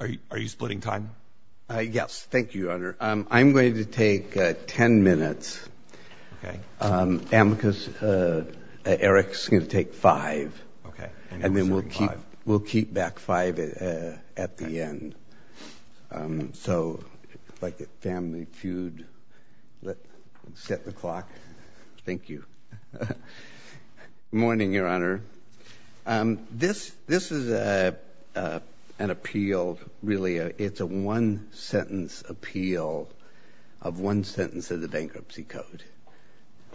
Are you splitting time? Yes, thank you, Your Honor. I'm going to take 10 minutes. Amicus, Eric's going to take five. Okay. And then we'll keep back five at the end. So, like a family feud, let's set the clock. Thank you. Good morning, Your Honor. This is an appeal, really. It's a one-sentence appeal of one sentence of the Bankruptcy Code.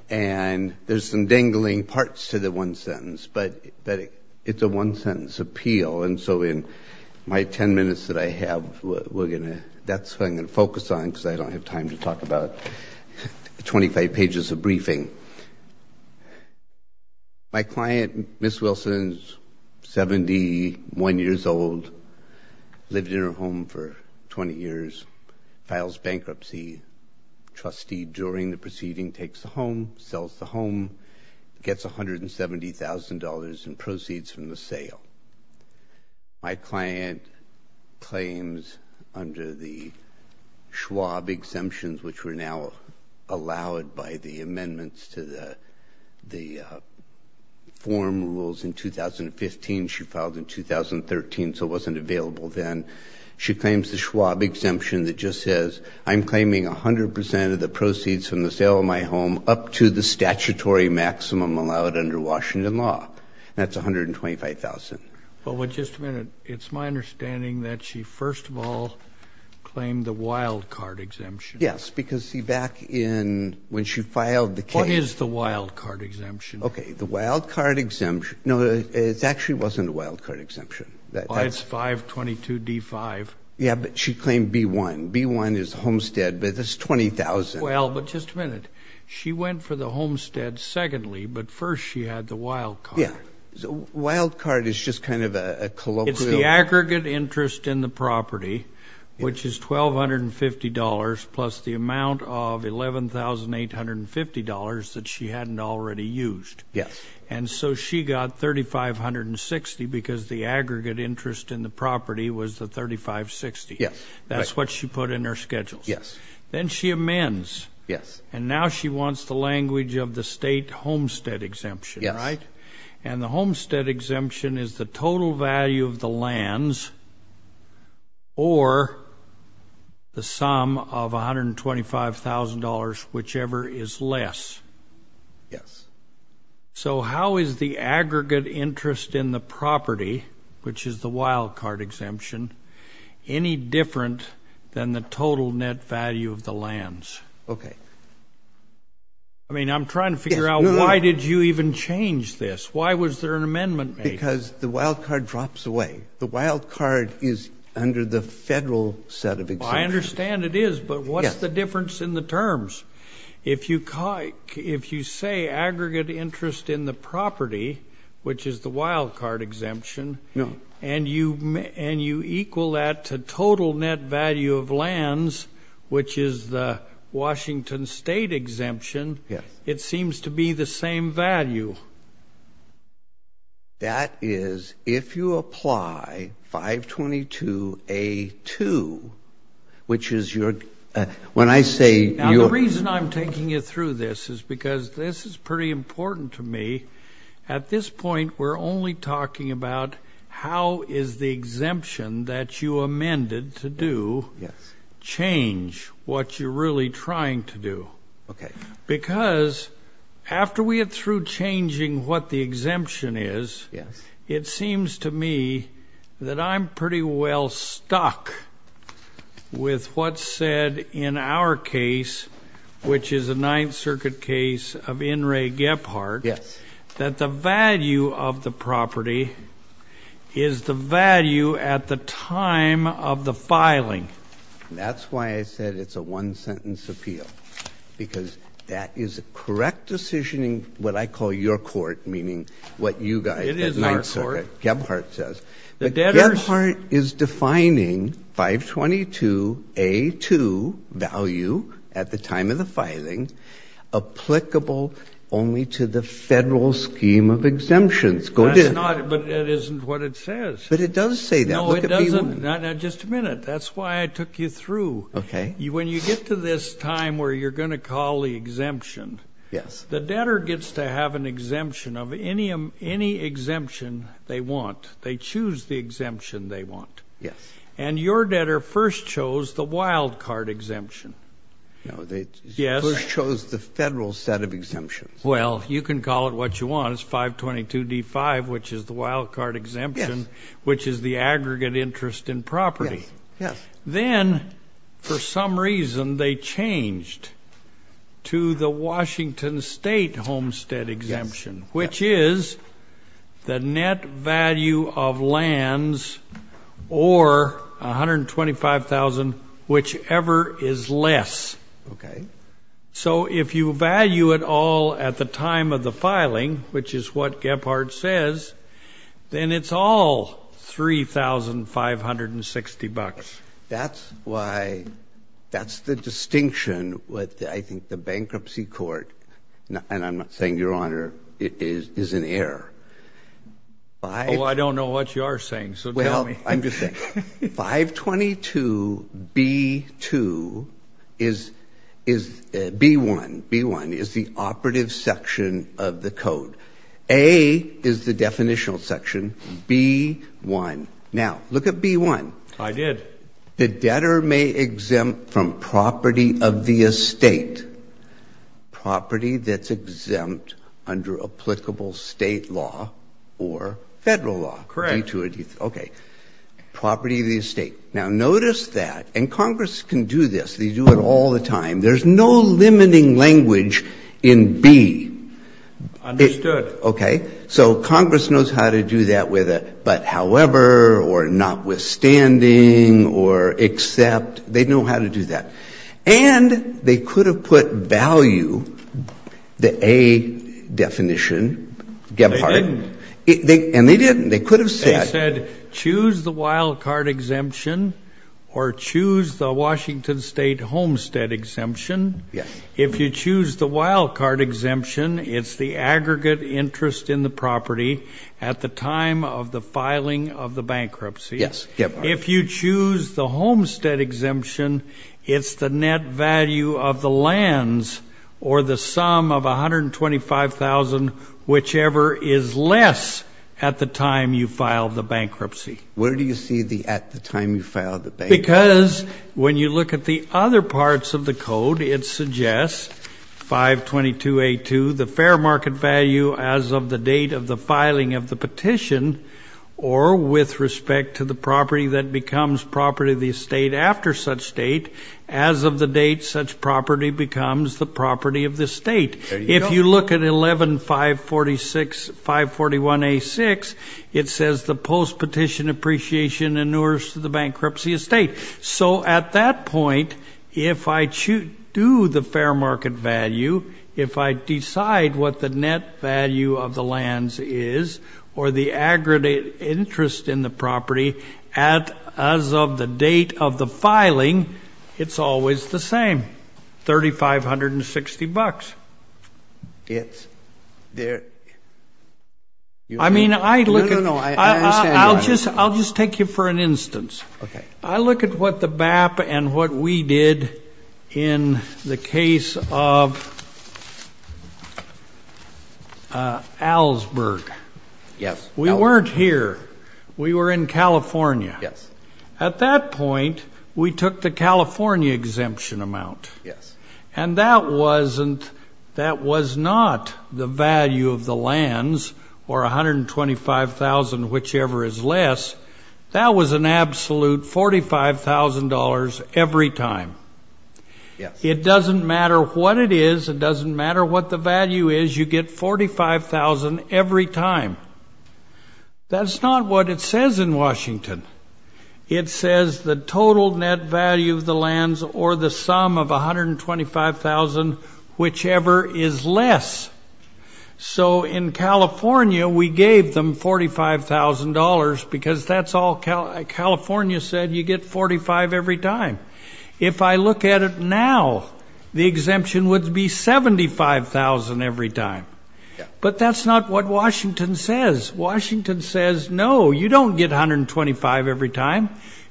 And there's some dangling parts to the one sentence, but it's a one-sentence appeal. And so in my 10 minutes that I have, that's what I'm going to focus on because I don't have time to talk about 25 pages of briefing. My client, Ms. Wilson, is 71 years old, lived in her home for 20 years, files bankruptcy. Trustee during the proceeding takes the home, sells the home, gets $170,000 in proceeds from the Schwab exemptions, which were now allowed by the amendments to the form rules in 2015. She filed in 2013, so it wasn't available then. She claims the Schwab exemption that just says, I'm claiming 100% of the proceeds from the sale of my home up to the statutory maximum allowed under Washington law. That's $125,000. Well, but just a minute. It's my understanding that she first of all claimed the wildcard exemption. Yes, because see, back in when she filed the case. What is the wildcard exemption? Okay, the wildcard exemption. No, it actually wasn't a wildcard exemption. Oh, it's 522D5. Yeah, but she claimed B1. B1 is homestead, but it's $20,000. Well, but just a minute. She went for the homestead secondly, but first she had the wildcard. Yeah, wildcard is just kind of a colloquial- It's the aggregate interest in the property, which is $1,250 plus the amount of $11,850 that she hadn't already used. And so she got 3,560 because the aggregate interest in the property was the 3,560. That's what she put in her schedule. Then she amends, and now she wants the language of the state homestead exemption, right? And the homestead exemption is the total value of the lands or the sum of $125,000, whichever is less. So how is the aggregate interest in the property, which is the wildcard exemption, any different than the total net value of the lands? Okay. I mean, I'm trying to figure out why did you even change this? Why was there an amendment made? Because the wildcard drops away. The wildcard is under the federal set of exemptions. I understand it is, but what's the difference in the terms? If you say aggregate interest in the property, which is the wildcard exemption, and you equal that to total net value of lands, which is the Washington State exemption, it seems to be the same value. That is, if you apply 522A2, which is your, when I say... Now, the reason I'm taking you through this is because this is pretty important to me. At this point, we're only talking about how is the exemption that you amended to do changed what you're really trying to do? Okay. Because after we get through changing what the exemption is, it seems to me that I'm pretty well stuck with what's said in our case, which is a Ninth Circuit case of In Ray Gephardt, that the value of the property is the value at the time of the filing. That's why I said it's a one-sentence appeal, because that is a correct decision in what I call your court, meaning what you guys at Ninth Circuit, Gephardt says. The debtors... Gephardt is defining 522A2 value at the time of the filing applicable only to the federal scheme of exemptions. Go get it. That's not, but that isn't what it says. But it does say that. No, it doesn't. Just a minute. That's why I took you through. When you get to this time where you're going to call the exemption, the debtor gets to have an exemption of any exemption they want. They choose the exemption they want. And your debtor first chose the wild card exemption. No, they first chose the federal set of exemptions. Well, you can call it what you want. It's 522D5, which is the wild card exemption, which is the aggregate interest in property. Then, for some reason, they changed to the Washington State homestead exemption, which is the net value of lands or $125,000, whichever is less. Okay. So if you value it all at the time of the filing, which is what Gephardt says, then it's all $3,560. That's why, that's the distinction with, I think, the bankruptcy court. And I'm not saying, Your Honor, it is an error. Oh, I don't know what you are saying, so tell me. I'm just saying, 522B1 is the operative section of the code. A is the definitional section, B1. Now, look at B1. I did. The debtor may exempt from property of the estate, property that's exempt under applicable state law or federal law. Correct. Okay. Property of the estate. Now, notice that, and Congress can do this, they do it all the time, there's no limiting language in B. Understood. Okay. So Congress knows how to do that with a but however or notwithstanding or except. They know how to do that. And they could have put value, the A definition, Gephardt. They didn't. And they didn't. They could have said. They said, choose the wildcard exemption or choose the Washington State homestead exemption. If you choose the wildcard exemption, it's the aggregate interest in the property at the time of the filing of the bankruptcy. If you choose the homestead exemption, it's the net value of the lands or the sum of $125,000, whichever is less at the time you filed the bankruptcy. Where do you see the at the time you filed the bankruptcy? Because when you look at the other parts of the code, it suggests 522A2, the fair market value as of the date of the filing of the petition or with respect to the property that becomes property of the estate after such date, as of the date such property becomes the property of the state. If you look at 11.546.541A6, it says the post petition appreciation inures to the bankruptcy estate. So at that point, if I do the fair market value, if I decide what the net value of the lands is or the aggregate interest in the property as of the date of the filing, it's always the same, $3,560. I mean, I look at, I'll just take you for an instance. I look at what the BAP and what we did in the case of Allsburg. We weren't here. We were in California. At that point, we took the California exemption amount. And that wasn't, that was not the value of the lands or $125,000, whichever is less. That was an absolute $45,000 every time. It doesn't matter what it is, it doesn't matter what the value is, you get $45,000 every time. That's not what it says in Washington. It says the total net value of the lands or the sum of $125,000, whichever is less. So in California, we gave them $45,000 because that's all California said, you get $45,000 every time. If I look at it now, the exemption would be $75,000 every time. But that's not what Washington says. Washington says, no, you don't get $125,000 every time.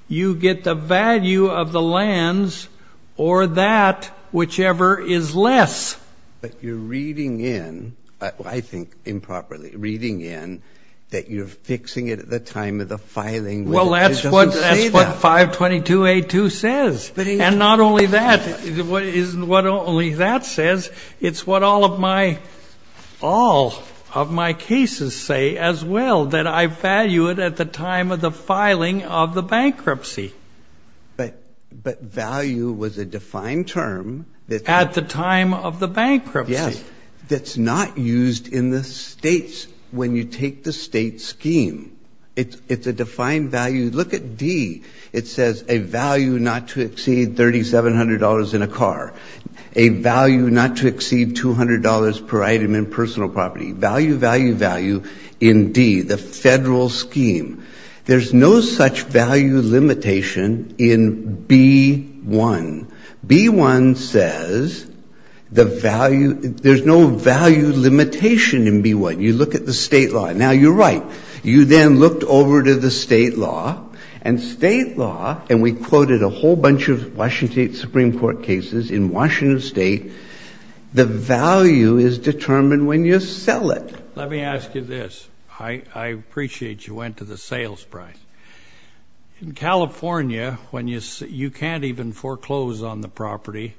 You get the value of the lands or that, whichever is less. But you're reading in, I think improperly, reading in that you're fixing it at the time of the filing. Well, that's what 522A2 says. And not only that, what only that says, it's what all of my cases say as well, that I value it at the time of the filing of the bankruptcy. But value was a defined term. At the time of the bankruptcy. Yes. That's not used in the states when you take the state scheme. It's a defined value. If you look at D, it says a value not to exceed $3,700 in a car. A value not to exceed $200 per item in personal property. Value, value, value in D, the federal scheme. There's no such value limitation in B-1. B-1 says the value, there's no value limitation in B-1. You look at the state law. Now you're right. You then looked over to the state law. And state law, and we quoted a whole bunch of Washington State Supreme Court cases in Washington State, the value is determined when you sell it. Let me ask you this. I appreciate you went to the sales price. In California, you can't even foreclose on the property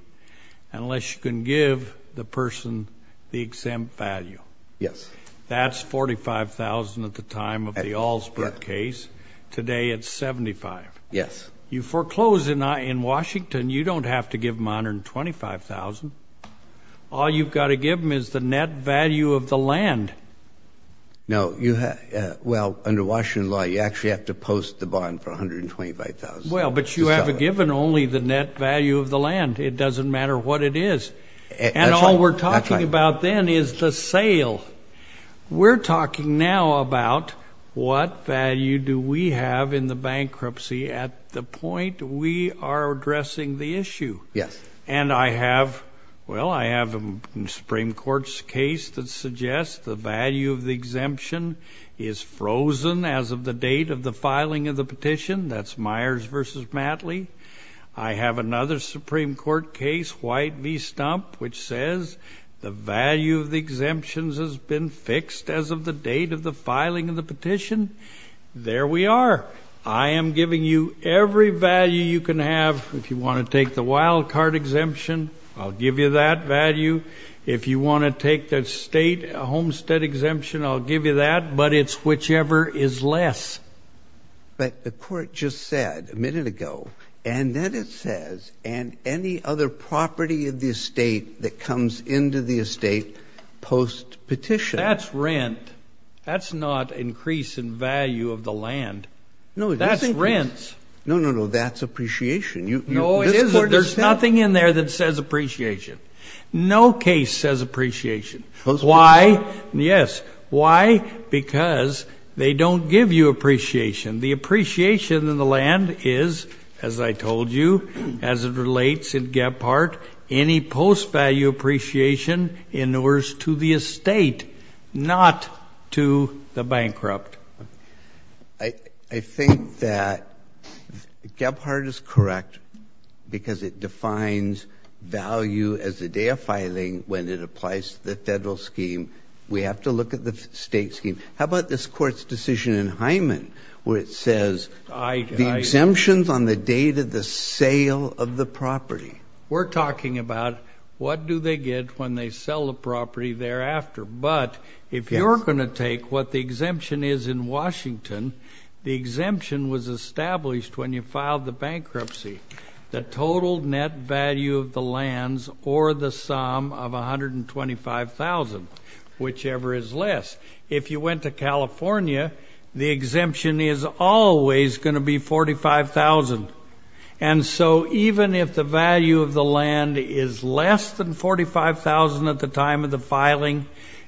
unless you can give the person the exempt value. Yes. That's $45,000 at the time of the Allsport case. Today it's $75,000. Yes. You foreclose in Washington. You don't have to give them $125,000. All you've got to give them is the net value of the land. Now, well, under Washington law, you actually have to post the bond for $125,000. Well, but you have given only the net value of the land. It doesn't matter what it is. And all we're talking about then is the sale. We're talking now about what value do we have in the bankruptcy at the point we are addressing the issue. Yes. And I have, well, I have a Supreme Court's case that suggests the value of the exemption is frozen as of the date of the filing of the petition. That's Myers versus Matley. I have another Supreme Court case, White v. Stump, which says the value of the exemptions has been fixed as of the date of the filing of the petition. There we are. I am giving you every value you can have. If you want to take the wild card exemption, I'll give you that value. If you want to take the state homestead exemption, I'll give you that. But it's whichever is less. But the court just said a minute ago, and then it says, and any other property of the estate that comes into the estate post-petition. That's rent. That's not increase in value of the land. No, it isn't. That's rent. No, no, no. That's appreciation. No, it isn't. There's nothing in there that says appreciation. No case says appreciation. Post-petition? Why? Yes. Why? Because they don't give you appreciation. The appreciation of the land is, as I told you, as it relates in Gebhardt, any post-value appreciation in order to the estate, not to the bankrupt. I think that Gebhardt is correct because it defines value as the day of filing when it applies to the federal scheme. We have to look at the state scheme. How about this court's decision in Hyman where it says, the exemptions on the date of the sale of the property. We're talking about what do they get when they sell the property thereafter. But if you're going to take what the exemption is in Washington, the exemption was established when you filed the bankruptcy. The total net value of the lands or the sum of $125,000, whichever is less. If you went to California, the exemption is always going to be $45,000. And so even if the value of the land is less than $45,000 at the time of the filing,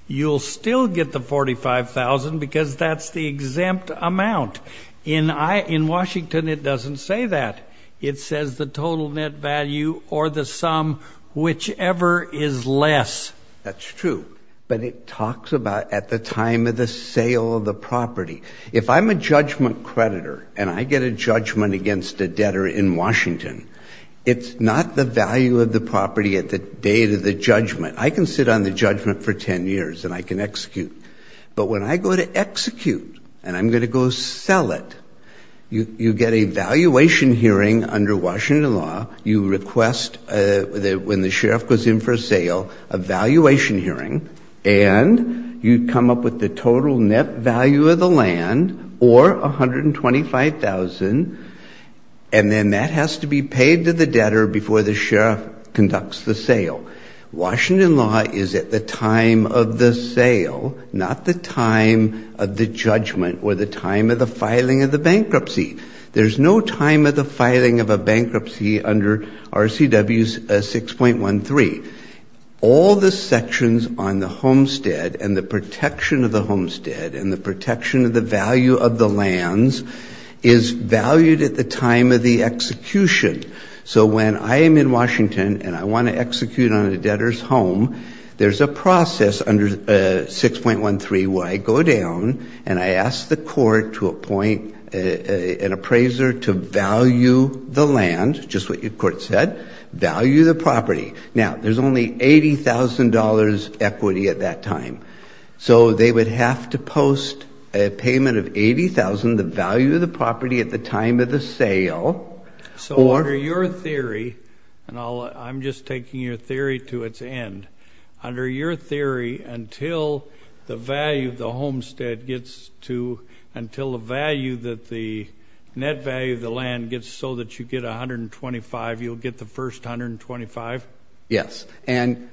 you'll still get the $45,000 because that's the exempt amount. In Washington, it doesn't say that. It says the total net value or the sum, whichever is less. That's true. But it talks about at the time of the sale of the property. If I'm a judgment creditor and I get a judgment against a debtor in Washington, it's not the value of the property at the date of the judgment. I can sit on the judgment for 10 years and I can execute. But when I go to execute and I'm going to go sell it, you get a valuation hearing under Washington law. You request, when the sheriff goes in for a sale, a valuation hearing. And you come up with the total net value of the land or $125,000. And then that has to be paid to the debtor before the sheriff conducts the sale. Washington law is at the time of the sale, not the time of the judgment or the time of the filing of the bankruptcy. There's no time of the filing of a bankruptcy under RCW 6.13. All the sections on the homestead and the protection of the homestead and the protection of the value of the lands is valued at the time of the execution. So when I am in Washington and I want to execute on a debtor's home, there's a process under 6.13 where I go down and I ask the court to appoint an appraiser to value the land, just what your court said, value the property. Now, there's only $80,000 equity at that time. So they would have to post a payment of 80,000, the value of the property at the time of the sale. So under your theory, and I'm just taking your theory to its end. Under your theory, until the value of the homestead gets to, until the value that the net value of the land gets so that you get 125, you'll get the first 125? Yes, and-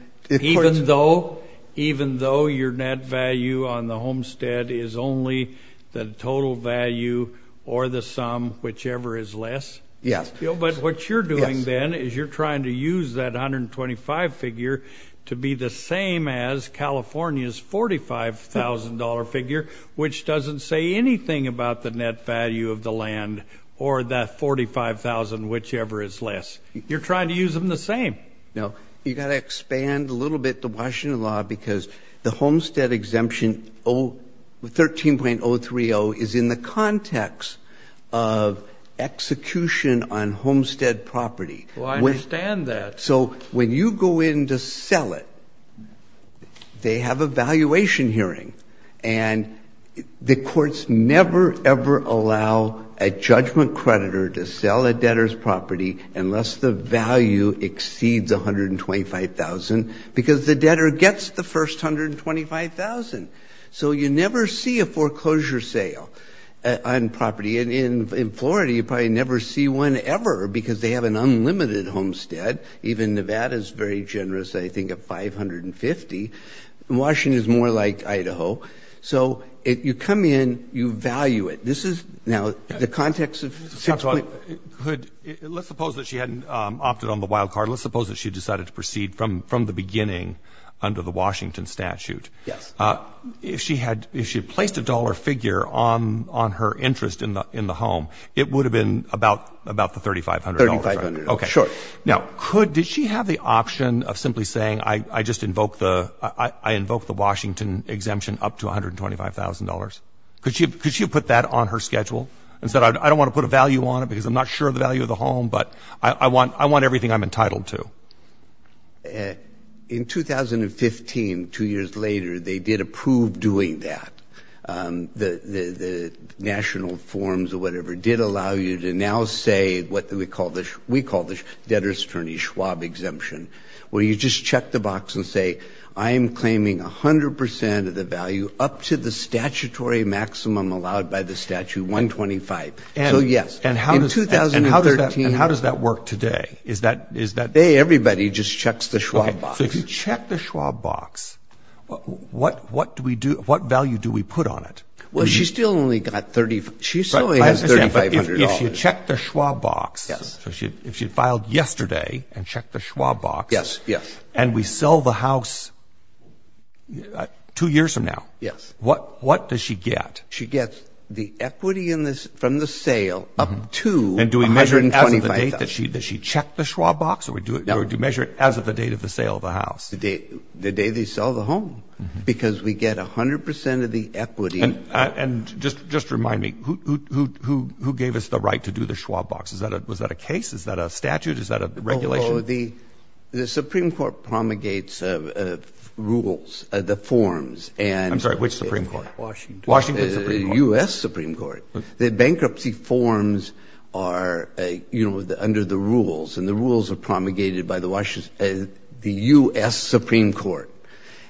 Even though your net value on the homestead is only the total value or the sum, whichever is less? Yes. But what you're doing then is you're trying to use that 125 figure to be the same as California's $45,000 figure, which doesn't say anything about the net value of the land or that 45,000, whichever is less. You're trying to use them the same. No, you gotta expand a little bit the Washington law because the homestead exemption 13.030 is in the context of execution on homestead property. Well, I understand that. So when you go in to sell it, they have a valuation hearing. And the courts never, ever allow a judgment creditor to sell a debtor's property unless the value exceeds 125,000. Because the debtor gets the first 125,000. So you never see a foreclosure sale on property. And in Florida, you probably never see one ever, because they have an unlimited homestead. Even Nevada's very generous, I think, at 550. Washington's more like Idaho. So if you come in, you value it. This is now the context of six- Mr. Stockwell, let's suppose that she hadn't opted on the wild card. Let's suppose that she decided to proceed from the beginning under the Washington statute. Yes. If she had placed a dollar figure on her interest in the home, it would have been about the $3,500, right? $3,500, sure. Now, did she have the option of simply saying, I invoke the Washington exemption up to $125,000? Could she have put that on her schedule and said, I don't want to put a value on it because I'm not sure of the value of the home, but I want everything I'm entitled to? In 2015, two years later, they did approve doing that. The national forms or whatever did allow you to now say what we call the debtor's attorney Schwab exemption, where you just check the box and say, I am claiming 100% of the value up to the statutory maximum allowed by the statute, 125. So yes. And how does that work today? Today, everybody just checks the Schwab box. So if you check the Schwab box, what value do we put on it? Well, she still only got $3,500. She still has $3,500. If you check the Schwab box, so if she had filed yesterday and checked the Schwab box, and we sell the house two years from now, what does she get? She gets the equity from the sale up to $125,000. Does she check the Schwab box, or do you measure it as of the date of the sale of the house? The day they sell the home, because we get 100% of the equity. And just remind me, who gave us the right to do the Schwab box? Was that a case? Is that a statute? Is that a regulation? The Supreme Court promulgates the rules, the forms. I'm sorry, which Supreme Court? Washington. Washington Supreme Court. The US Supreme Court. The bankruptcy forms are under the rules. And the rules are promulgated by the US Supreme Court.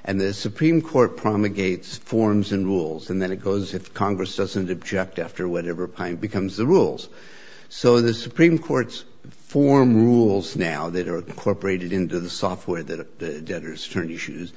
And the Supreme Court promulgates forms and rules. And then it goes, if Congress doesn't object after whatever time, becomes the rules. So the Supreme Court's form rules now that are incorporated into the software that debtors turn to use,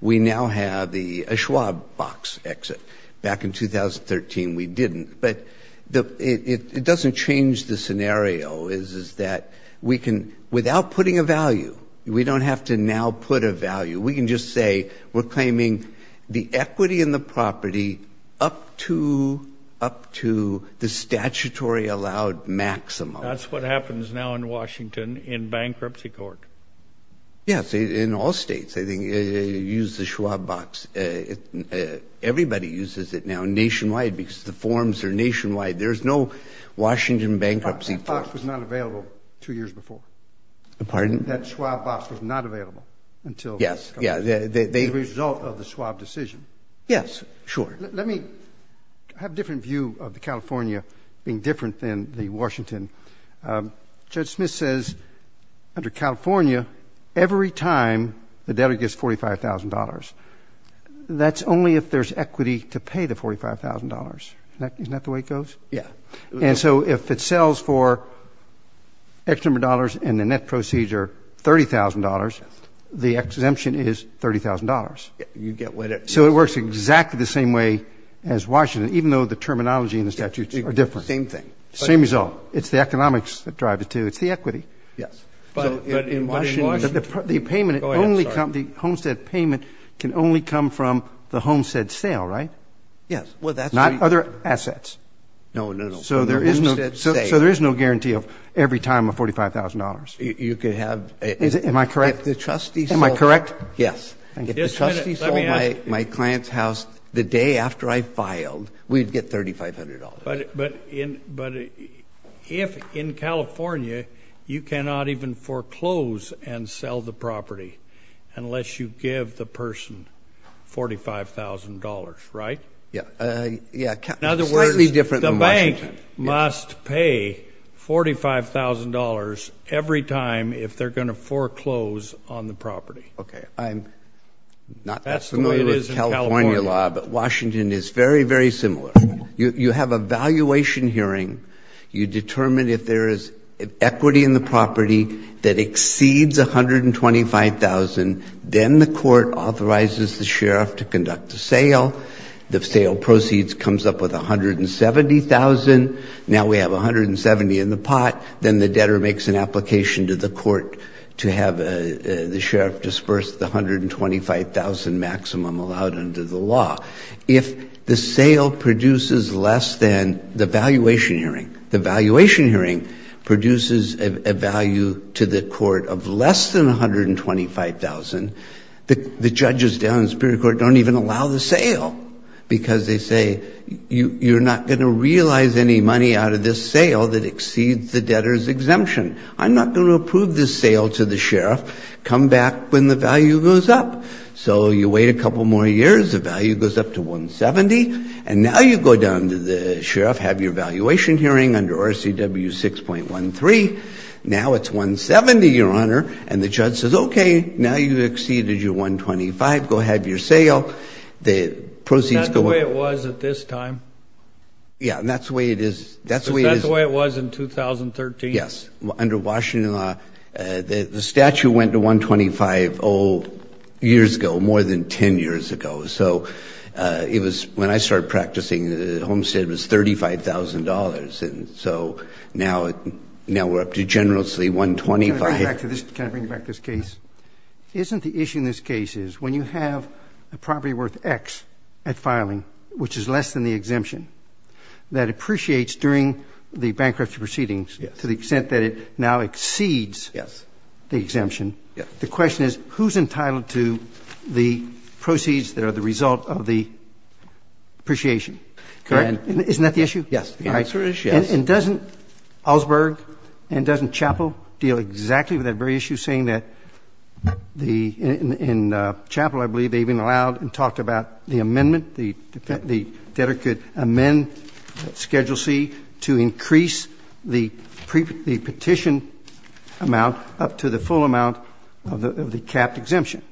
we now have the Schwab box exit. Back in 2013, we didn't. But it doesn't change the scenario, is that we can, without putting a value, we don't have to now put a value. We can just say, we're claiming the equity in the property up to the statutory allowed maximum. That's what happens now in Washington in bankruptcy court. Yes, in all states, I think, use the Schwab box. Everybody uses it now nationwide because the forms are nationwide. There's no Washington bankruptcy court. That box was not available two years before. Pardon? That Schwab box was not available until the result of the Schwab decision. Yes, sure. Let me have a different view of the California being different than the Washington. Judge Smith says, under California, every time the debtor gets $45,000, that's only if there's equity to pay the $45,000. Isn't that the way it goes? And so if it sells for X number of dollars and the net procedure $30,000, the exemption is $30,000. So it works exactly the same way as Washington, even though the terminology and the statutes are different. Same thing. Same result. It's the economics that drive it, too. It's the equity. Yes. But in Washington, the Homestead payment can only come from the Homestead sale, right? Yes. Well, that's true. Not other assets. No, no, no. So there is no guarantee of every time of $45,000. You could have a- Am I correct? If the trustee sold- Am I correct? Yes. If the trustee sold my client's house the day after I filed, we'd get $3,500. But if in California, you cannot even foreclose and sell the property unless you give the person $45,000, right? Yeah. Yeah. In other words, the bank must pay $45,000 every time if they're going to foreclose on the property. OK. I'm not that familiar with California law, but Washington is very, very similar. You have a valuation hearing. You determine if there is equity in the property that exceeds $125,000. Then the court authorizes the sheriff to conduct the sale. The sale proceeds comes up with $170,000. Now we have $170,000 in the pot. Then the debtor makes an application to the court to have the sheriff disperse the $125,000 maximum allowed under the law. If the sale produces less than the valuation hearing, the valuation hearing produces a value to the court of less than $125,000, the judges down in the Supreme Court don't even allow the sale. Because they say, you're not going to realize any money out of this sale that exceeds the debtor's exemption. I'm not going to approve this sale to the sheriff. Come back when the value goes up. So you wait a couple more years. The value goes up to $170,000. And now you go down to the sheriff, have your valuation hearing under RCW 6.13. Now it's $170,000, Your Honor. And the judge says, OK, now you've exceeded your $125,000. Go have your sale. The proceeds go up. Is that the way it was at this time? Yeah, and that's the way it is. That's the way it is. So that's the way it was in 2013? Yes. Under Washington law, the statute went to $125,000 years ago, more than 10 years ago. So when I started practicing, Homestead was $35,000. And so now we're up to generously $125,000. Can I bring back this case? Isn't the issue in this case is, when you have a property worth x at filing, which is less than the exemption, that appreciates during the bankruptcy proceedings to the extent that it now exceeds the exemption, the question is, who's entitled to the proceeds that are the result of the appreciation? Correct? And isn't that the issue? Yes, the answer is yes. And doesn't Osberg and doesn't Chappell deal exactly with that very issue, saying that in Chappell, I believe, they've been allowed and talked about the amendment, the debtor could amend Schedule C to increase the petition amount up to the full amount of the capped exemption,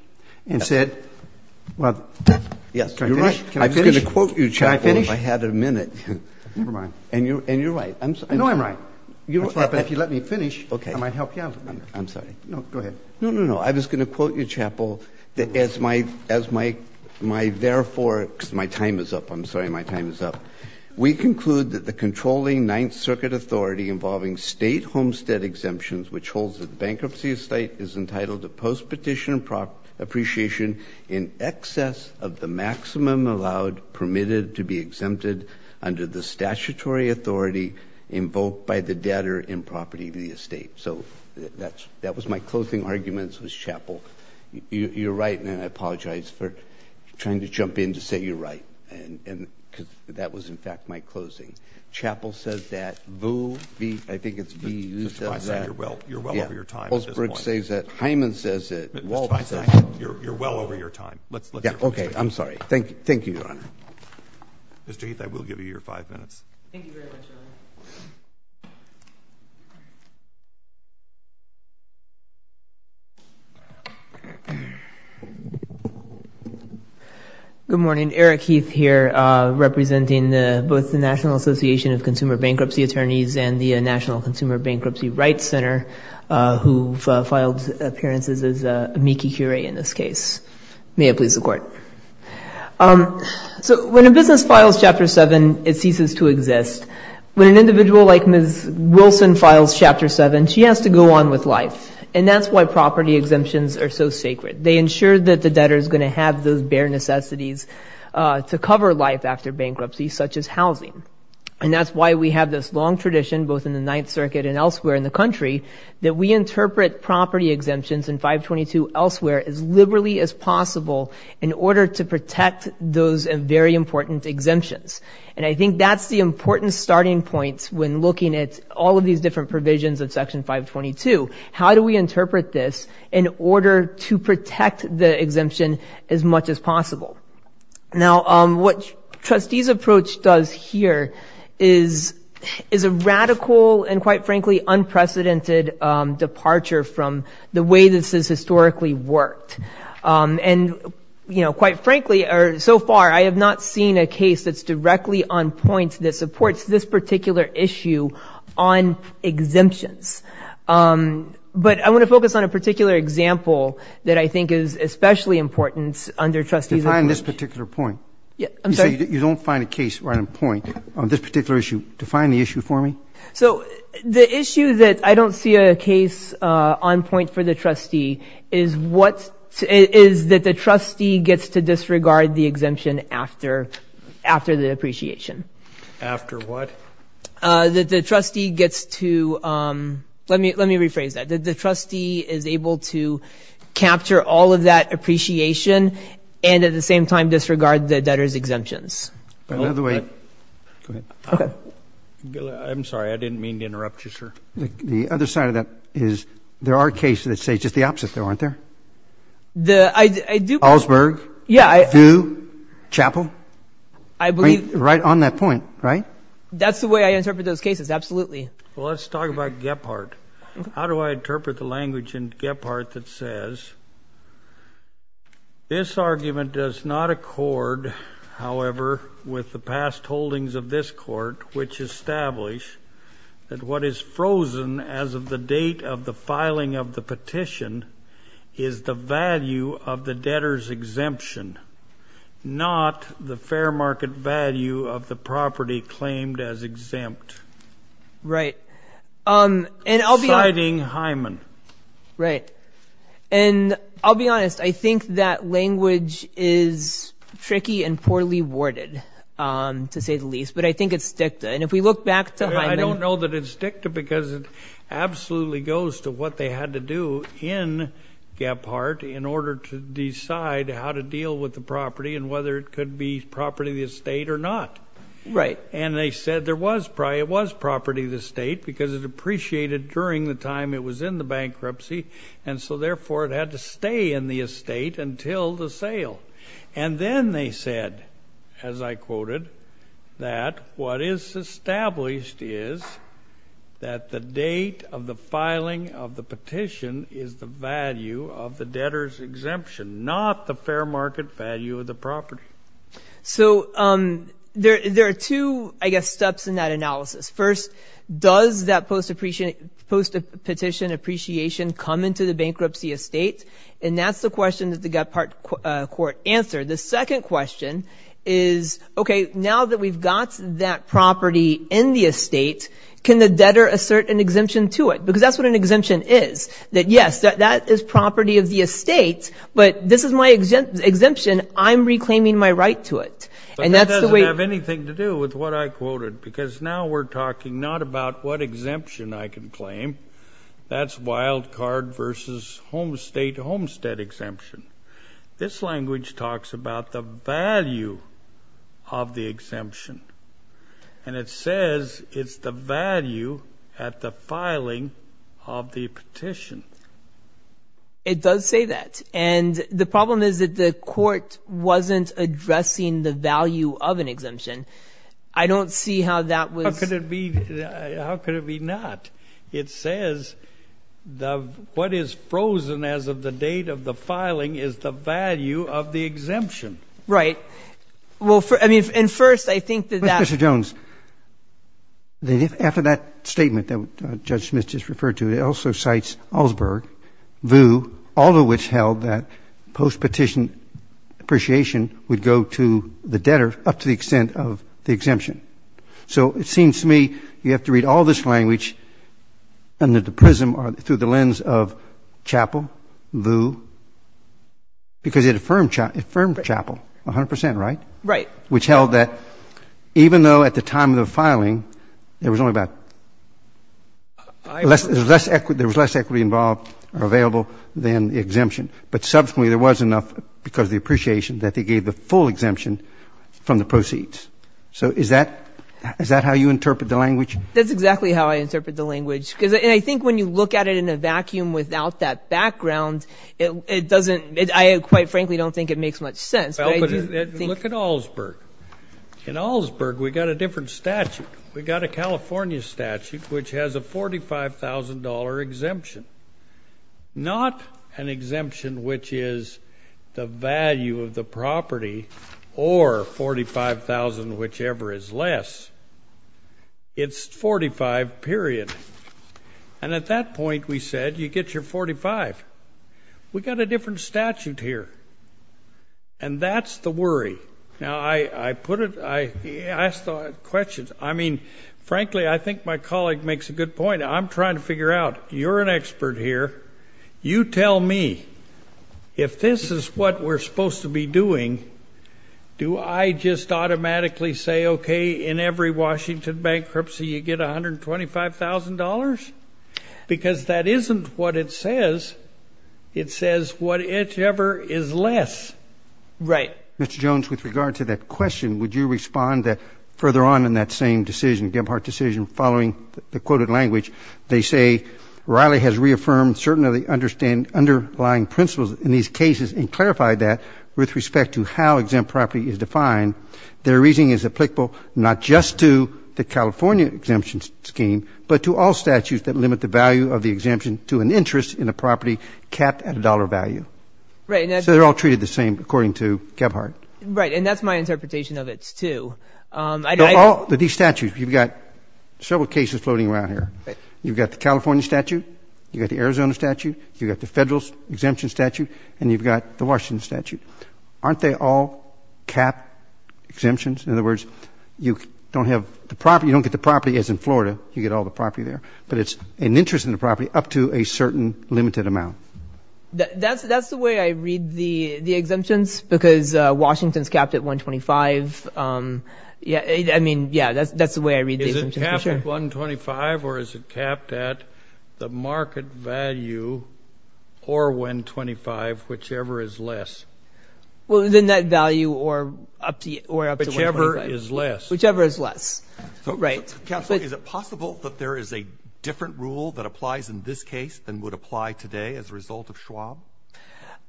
and said, well, can I finish? Yes, you're right. I was going to quote you, Chappell, if I had a minute. Never mind. And you're right. I know I'm right. But if you let me finish, I might help you out. I'm sorry. No, go ahead. No, no, no. I was going to quote you, Chappell, as my therefore, my time is up. I'm sorry, my time is up. We conclude that the controlling Ninth Circuit authority involving state Homestead exemptions, which holds that bankruptcy estate is entitled to post-petition appreciation in excess of the maximum allowed permitted to be exempted under the statutory authority invoked by the debtor in property of the estate. So that was my closing arguments with Chappell. You're right, and I apologize for trying to jump in to say you're right, because that was, in fact, my closing. Chappell says that Boole v. I think it's v. You said that. Justifying saying you're well over your time at this point. Hyman says that Walden says that. You're well over your time. OK, I'm sorry. Thank you, Your Honor. Mr. Heath, I will give you your five minutes. Thank you very much, Your Honor. Good morning. Eric Heath here, representing both the National Association of Consumer Bankruptcy Attorneys and the National Consumer Bankruptcy Rights Center, who filed appearances as amici curiae in this case. May it please the Court. So when a business files Chapter 7, it ceases to exist. When an individual like Ms. Wilson files Chapter 7, she has to go on with life. And that's why property exemptions are so sacred. They ensure that the debtor is going to have those bare necessities to cover life after bankruptcy, such as housing. And that's why we have this long tradition, both in the Ninth Circuit and elsewhere in the country, that we interpret property exemptions in 522 elsewhere as liberally as possible in order to protect those very important exemptions. And I think that's the important starting point when looking at all of these different provisions of Section 522. How do we interpret this in order to protect the exemption as much as possible? Now, what trustees' approach does here is a radical and, quite frankly, unprecedented departure from the way this has historically worked. And quite frankly, or so far, I have not seen a case that's directly on point that supports this particular issue on exemptions. But I want to focus on a particular example that I think is especially important under trustees' approach. Define this particular point. Yeah, I'm sorry? You don't find a case on point on this particular issue. Define the issue for me. So the issue that I don't see a case on point for the trustee is that the trustee gets to disregard the exemption after the appreciation. After what? That the trustee gets to, let me rephrase that, that the trustee is able to capture all of that appreciation and, at the same time, disregard the debtor's exemptions. By the way, go ahead. I'm sorry. I didn't mean to interrupt you, sir. The other side of that is there are cases that say just the opposite, though, aren't there? Allsberg? Yeah. Thieu? Chappell? I believe. Right on that point, right? That's the way I interpret those cases, absolutely. Well, let's talk about Gephardt. How do I interpret the language in Gephardt that says, this argument does not accord, however, with the past holdings of this court, which establish that what is frozen as of the date of the filing of the petition is the value of the debtor's exemption, not the fair market value of the property claimed as exempt. Right. And I'll be honest. Citing Hyman. Right. And I'll be honest. I think that language is tricky and poorly worded, to say the least. But I think it's dicta. And if we look back to Hyman. I don't know that it's dicta, because it absolutely goes to what they had to do in Gephardt in order to decide how to deal with the property and whether it could be property of the estate or not. Right. And they said there was property of the estate, because it appreciated during the time it was in the bankruptcy. And so therefore, it had to stay in the estate until the sale. And then they said, as I quoted, that what is established is that the date of the filing of the petition is the value of the debtor's exemption, not the fair market value of the property. So there are two, I guess, steps in that analysis. First, does that post-petition appreciation come into the bankruptcy estate? And that's the question that the Gephardt court answered. The second question is, OK, now that we've got that property in the estate, can the debtor assert an exemption to it? Because that's what an exemption is, that yes, that is property of the estate. But this is my exemption. I'm reclaiming my right to it. And that's the way. But that doesn't have anything to do with what I quoted. Because now we're talking not about what exemption I can claim. That's wild card versus homestead exemption. This language talks about the value of the exemption. And it says it's the value at the filing of the petition. It does say that. And the problem is that the court wasn't addressing the value of an exemption. I don't see how that was. How could it be not? It says what is frozen as of the date of the filing is the value of the exemption. Right. And first, I think that that's. Mr. Jones, after that statement that Judge Smith just referred to, it also cites Allsberg, Vu, all of which held that post-petition appreciation would go to the debtor up to the extent of the exemption. So it seems to me you have to read all this language under the prism or through the lens of Chappell, Vu, because it affirmed Chappell 100%, right? Right. Which held that even though at the time of the filing, there was only about less equity involved or available than the exemption. But subsequently, there was enough because of the appreciation that they gave the full exemption from the proceeds. So is that how you interpret the language? That's exactly how I interpret the language. And I think when you look at it in a vacuum without that background, it doesn't, I quite frankly, don't think it makes much sense. Look at Allsberg. In Allsberg, we got a different statute. We got a California statute, which has a $45,000 exemption, not an exemption which is the value of the property or $45,000, whichever is less. It's 45, period. And at that point, we said, you get your 45. We got a different statute here. And that's the worry. Now, I put it, I asked the question. I mean, frankly, I think my colleague makes a good point. I'm trying to figure out. You're an expert here. You tell me, if this is what we're supposed to be doing, do I just automatically say, OK, in every Washington bankruptcy, you get $125,000? Because that isn't what it says. It says whatever is less. Right. Mr. Jones, with regard to that question, would you respond further on in that same decision, Gebhardt decision, following the quoted language? They say, Riley has reaffirmed certain of the underlying principles in these cases and clarified that with respect to how exempt property is defined. Their reasoning is applicable not just to the California exemption scheme, but to all statutes that limit the value of the exemption to an interest in a property capped at a dollar value. So they're all treated the same, according to Gebhardt. Right, and that's my interpretation of it, too. These statutes, you've got several cases floating around here. You've got the California statute. You've got the Arizona statute. You've got the federal exemption statute. And you've got the Washington statute. Aren't they all capped exemptions? In other words, you don't get the property, as in Florida, you get all the property there. But it's an interest in the property up to a certain limited amount. That's the way I read the exemptions, because Washington's capped at $125,000. I mean, yeah, that's the way I read the exemptions for sure. $125,000, or is it capped at the market value or $125,000, whichever is less? Well, the net value or up to $125,000. Whichever is less. Whichever is less, right. Counsel, is it possible that there is a different rule that applies in this case than would apply today as a result of Schwab?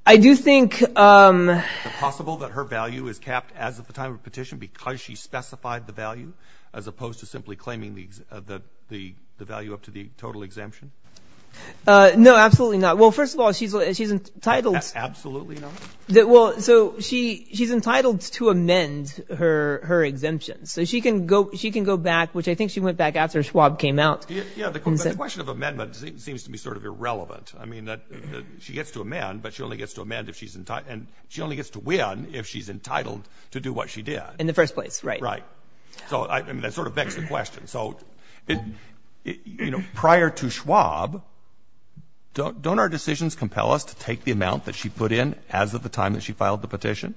I do think, um. Is it possible that her value is capped as of the time of petition because she specified the value as opposed to simply claiming the value up to the total exemption? No, absolutely not. Well, first of all, she's entitled. Absolutely not? Well, so she's entitled to amend her exemptions. So she can go back, which I think she went back after Schwab came out. Yeah, the question of amendment seems to be sort of irrelevant. I mean, she gets to amend, but she only gets to amend if she's entitled. And she only gets to win if she's entitled to do what she did. In the first place, right. So that sort of begs the question. So prior to Schwab, don't our decisions compel us to take the amount that she put in as of the time that she filed the petition?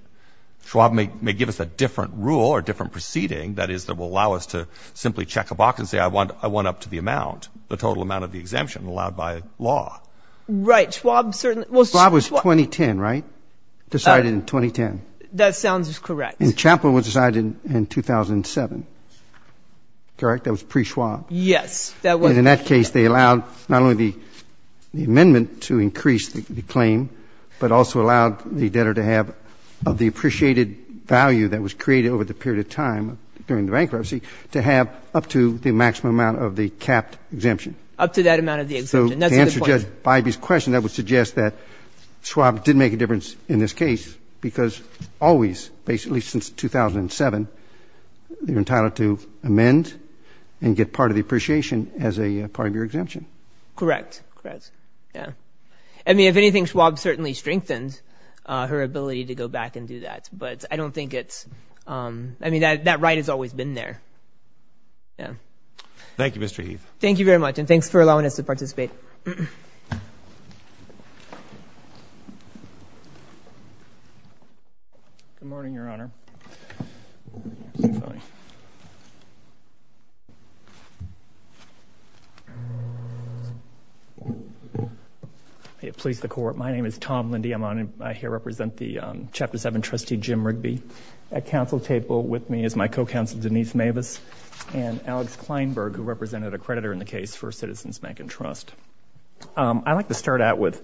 Schwab may give us a different rule or different proceeding that is that will allow us to simply check a box and say, I want up to the amount, the total amount of the exemption allowed by law. Right, Schwab certainly. Well, Schwab was 2010, right? Decided in 2010. That sounds correct. And Chaplin was decided in 2007, correct? That was pre-Schwab. Yes, that was pre-Schwab. And in that case, they allowed not only the amendment to increase the claim, but also allowed the debtor to have the appreciated value that was created over the period of time during the bankruptcy to have up to the maximum amount of the capped exemption. Up to that amount of the exemption. that would suggest that Schwab did make a difference in this case, because always, basically since 2007, you're entitled to amend and get part of the appreciation as a part of your exemption. Correct, yes. I mean, if anything, Schwab certainly strengthened her ability to go back and do that. But I don't think it's, I mean, that right has always been there. Thank you, Mr. Heath. Thank you very much. And thanks for allowing us to participate. Good morning, Your Honor. May it please the Court, my name is Tom Lindy. I'm here to represent the Chapter 7 trustee, Jim Rigby. At counsel table with me is my co-counsel Denise Mavis and Alex Kleinberg, who represented a creditor in the case for Citizens Bank and Trust. I'd like to start out with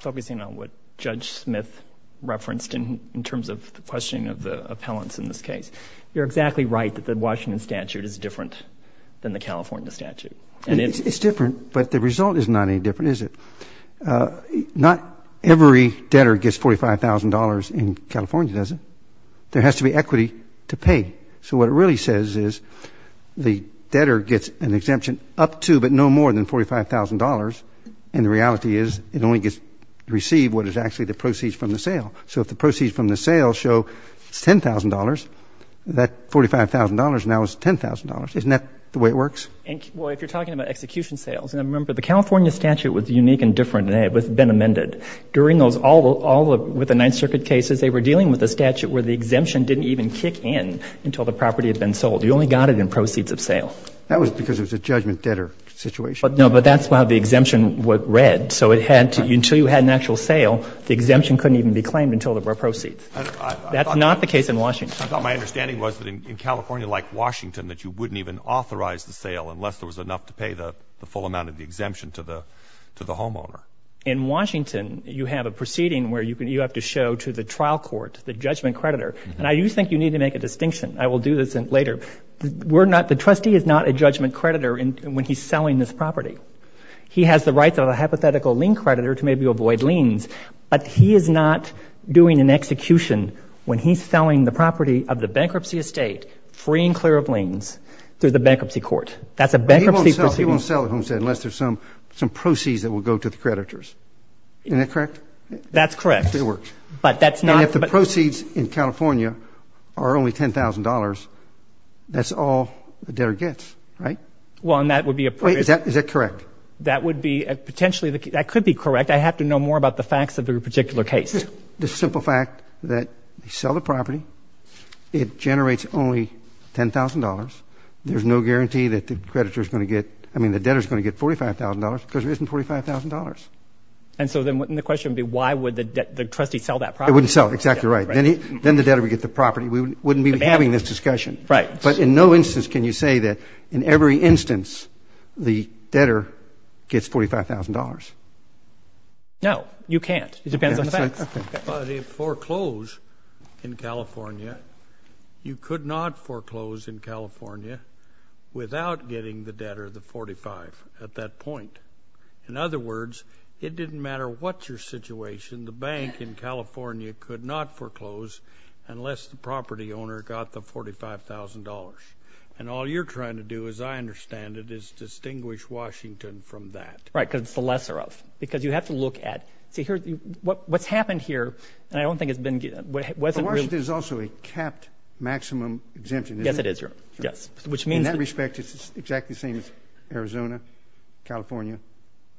focusing on what Judge Smith referenced in terms of the questioning of the appellants in this case. You're exactly right that the Washington statute is different than the California statute. And it's different, but the result is not any different, is it? Not every debtor gets $45,000 in California, does it? There has to be equity to pay. So what it really says is the debtor gets an exemption up to but no more than $45,000. And the reality is it only gets received what is actually the proceeds from the sale. So if the proceeds from the sale show it's $10,000, that $45,000 now is $10,000. Isn't that the way it works? Well, if you're talking about execution sales. And remember, the California statute was unique and different, and it had been amended. During those all with the Ninth Circuit cases, they were dealing with a statute where the exemption didn't even kick in until the property had been sold. You only got it in proceeds of sale. That was because it was a judgment debtor situation. No, but that's how the exemption read. So until you had an actual sale, the exemption couldn't even be claimed until there were proceeds. That's not the case in Washington. I thought my understanding was that in California, like Washington, that you wouldn't even authorize the sale unless there was enough to pay the full amount of the exemption to the homeowner. In Washington, you have a proceeding where you have to show to the trial court, the judgment creditor. And I do think you need to make a distinction. I will do this later. The trustee is not a judgment creditor when he's selling this property. He has the rights of a hypothetical lien creditor to maybe avoid liens, but he is not doing an execution when he's selling the property of the bankruptcy estate, free and clear of liens, through the bankruptcy court. That's a bankruptcy proceed. He won't sell the homestead unless there's some proceeds that will go to the creditors. Isn't that correct? That's correct. It works. But that's not. But if the proceeds in California are only $10,000, that's all the debtor gets, right? Well, and that would be a. Is that correct? That would be, potentially, that could be correct. I have to know more about the facts of your particular case. The simple fact that you sell the property, it generates only $10,000. There's no guarantee that the creditor is going to get, I mean, the debtor is going to get $45,000, because there isn't $45,000. And so then the question would be, why would the trustee sell that property? It wouldn't sell. Exactly right. Then the debtor would get the property. We wouldn't be having this discussion. But in no instance can you say that in every instance the debtor gets $45,000. No, you can't. It depends on the facts. But if foreclosed in California, you could not foreclose in California without getting the debtor the $45,000 at that point. In other words, it didn't matter what your situation, the bank in California could not foreclose unless the property owner got the $45,000. And all you're trying to do, as I understand it, is distinguish Washington from that. Right, because it's the lesser of. Because you have to look at, see, what's happened here, and I don't think it's been, wasn't really. But Washington is also a capped maximum exemption, isn't it? Yes, it is, Your Honor. Yes. Which means that. In that respect, it's exactly the same as Arizona, California,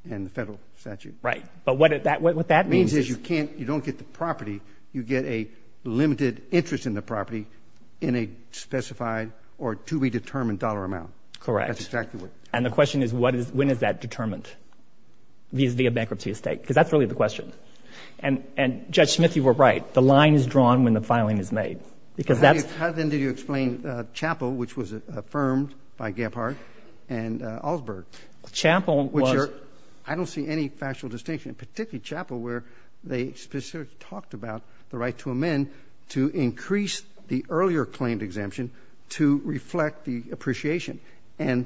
and the federal statute. Right. But what that means is you're not you can't, you don't get the property, you get a limited interest in the property in a specified or to be determined dollar amount. Correct. That's exactly what. And the question is, when is that determined? Is there bankruptcy at stake? Because that's really the question. And Judge Smith, you were right. The line is drawn when the filing is made. Because that's. How, then, did you explain Chapel, which was affirmed by Gephardt and Alsberg? Chapel was. I don't see any factual distinction, particularly Chapel, where they specifically talked about the right to amend to increase the earlier claimed exemption to reflect the appreciation. And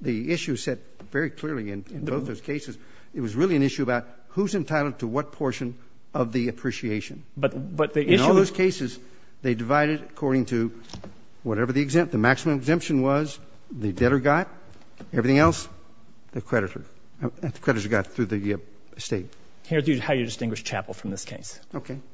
the issue is set very clearly in both those cases. It was really an issue about who's entitled to what portion of the appreciation. But the issue. In all those cases, they divided according to whatever the maximum exemption was, the debtor got, everything else, the creditor got through the estate. Here's how you distinguish Chapel from this case.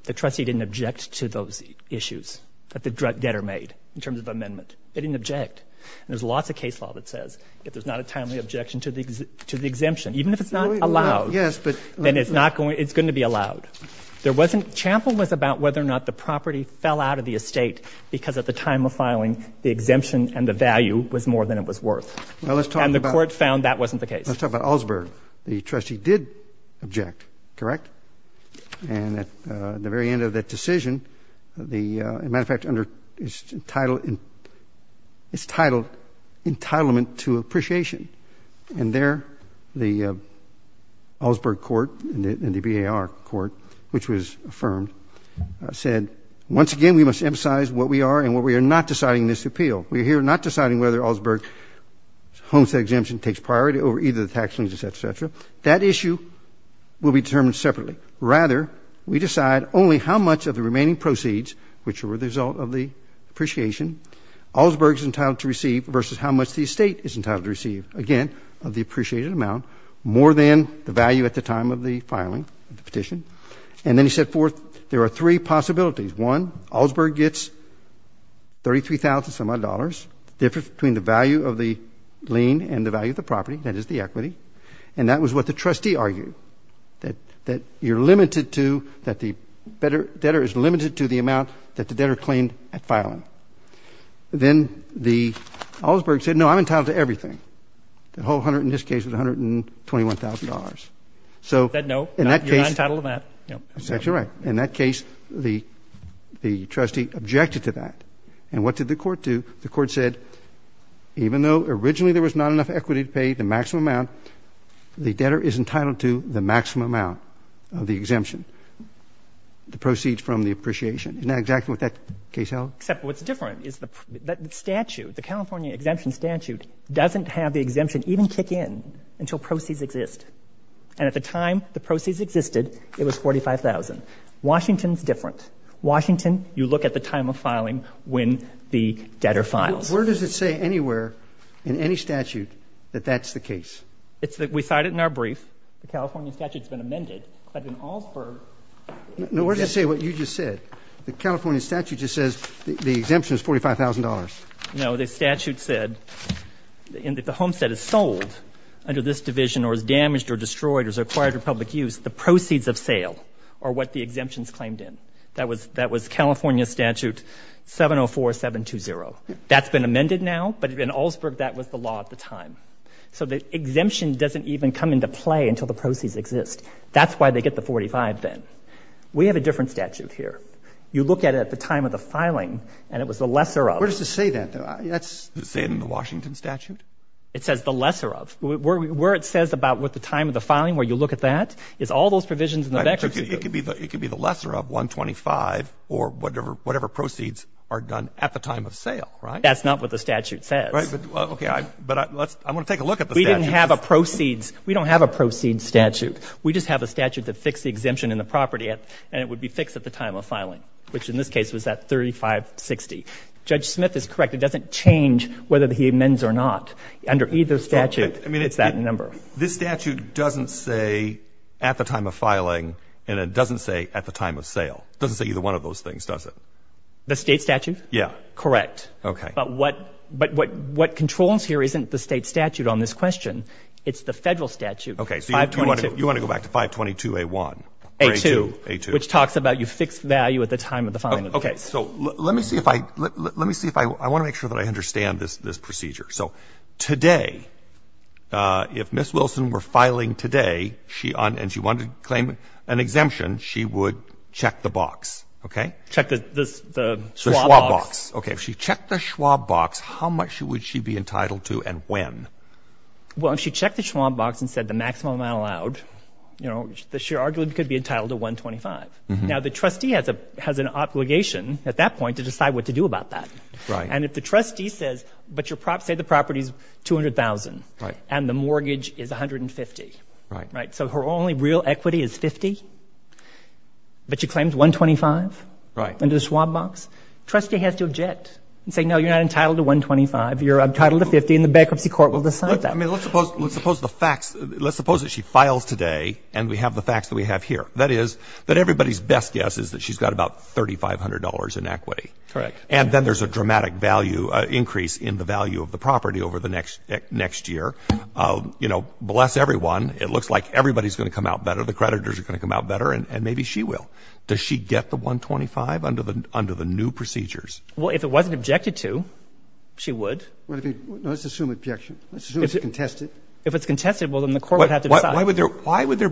The trustee didn't object to those issues that the debtor made in terms of amendment. They didn't object. There's lots of case law that says, if there's not a timely objection to the exemption, even if it's not allowed, then it's going to be allowed. Chapel was about whether or not the property fell out of the estate, because at the time of filing, the exemption and the value was more than it was worth. And the court found that wasn't the case. Let's talk about Allsburg. The trustee did object, correct? And at the very end of that decision, as a matter of fact, it's titled Entitlement to Appreciation. And there, the Allsburg court and the BAR court, which was affirmed, said, once again, we must emphasize what we are and what we are not deciding in this appeal. We are here not deciding whether Allsburg's homestead exemption takes priority over either the tax liens, et cetera, et cetera. That issue will be determined separately. Rather, we decide only how much of the remaining proceeds, which were the result of the appreciation, Allsburg's entitled to receive versus how much the estate is entitled to receive. Again, of the appreciated amount, more than the value at the time of the filing of the petition. And then he set forth, there are three possibilities. One, Allsburg gets $33,000 and some odd dollars. Difference between the value of the lien and the value of the property, that is the equity. And that was what the trustee argued, that you're limited to, that the debtor is limited to the amount that the debtor claimed at filing. Then the Allsburg said, no, I'm entitled to everything. The whole $100,000, in this case, was $121,000. So in that case, that's right. In that case, the trustee objected to that. And what did the court do? The court said, even though originally there was not enough equity to pay the maximum amount, the debtor is entitled to the maximum amount of the exemption, the proceeds from the appreciation. Isn't that exactly what that case held? Except what's different is the statute, the California exemption statute, doesn't have the exemption even kick in until proceeds exist. And at the time the proceeds existed, it was $45,000. Washington's different. Washington, you look at the time of filing when the debtor files. Where does it say anywhere, in any statute, that that's the case? We cite it in our brief. The California statute's been amended. But in Allsburg, No, where does it say what you just said? The California statute just says the exemption is $45,000. No, the statute said, and that the homestead is sold under this division, or is damaged, or destroyed, or is acquired for public use, the proceeds of sale are what the exemption's claimed in. That was California statute 704720. That's been amended now, but in Allsburg, that was the law at the time. So the exemption doesn't even come into play until the proceeds exist. That's why they get the $45,000 then. We have a different statute here. You look at it at the time of the filing, and it was the lesser of. Where does it say that, though? You say it in the Washington statute? It says the lesser of. where you look at that, is all those provisions in the Vector's review. It could be the lesser of, 125, or whatever proceeds are done at the time of sale, right? That's not what the statute says. OK, but I want to take a look at the statute. We didn't have a proceeds. We don't have a proceeds statute. We just have a statute that fixed the exemption in the property, and it would be fixed at the time of filing, which in this case was at 3560. Judge Smith is correct. It doesn't change whether he amends or not. Under either statute, it's that number. This statute doesn't say at the time of filing, and it doesn't say at the time of sale. Doesn't say either one of those things, does it? The state statute? Yeah. Correct. OK. But what controls here isn't the state statute on this question. It's the federal statute. OK, so you want to go back to 522A1. A2. A2. Which talks about you fix value at the time of the filing. OK, so let me see if I want to make sure that I understand this procedure. So today, if Ms. Wilson were filing today, and she wanted to claim an exemption, she would check the box, OK? Check the Schwab box. OK, if she checked the Schwab box, how much would she be entitled to and when? Well, if she checked the Schwab box and said the maximum amount allowed, she arguably could be entitled to 125. Now, the trustee has an obligation at that point to decide what to do about that. And if the trustee says, but say the property is $200,000 and the mortgage is $150,000, so her only real equity is $50,000, but she claims $125,000 under the Schwab box, trustee has to object and say, no, you're not entitled to $125,000. You're entitled to $50,000, and the bankruptcy court will decide that. I mean, let's suppose the facts. Let's suppose that she files today, and we have the facts that we have here. That is, that everybody's best guess is that she's got about $3,500 in equity. Correct. And then there's a dramatic value increase in the value of the property over the next year. You know, bless everyone. It looks like everybody's going to come out better. The creditors are going to come out better, and maybe she will. Does she get the 125 under the new procedures? Well, if it wasn't objected to, she would. Well, let's assume it's objection. Let's assume it's contested. If it's contested, well, then the court would have to decide. Why would there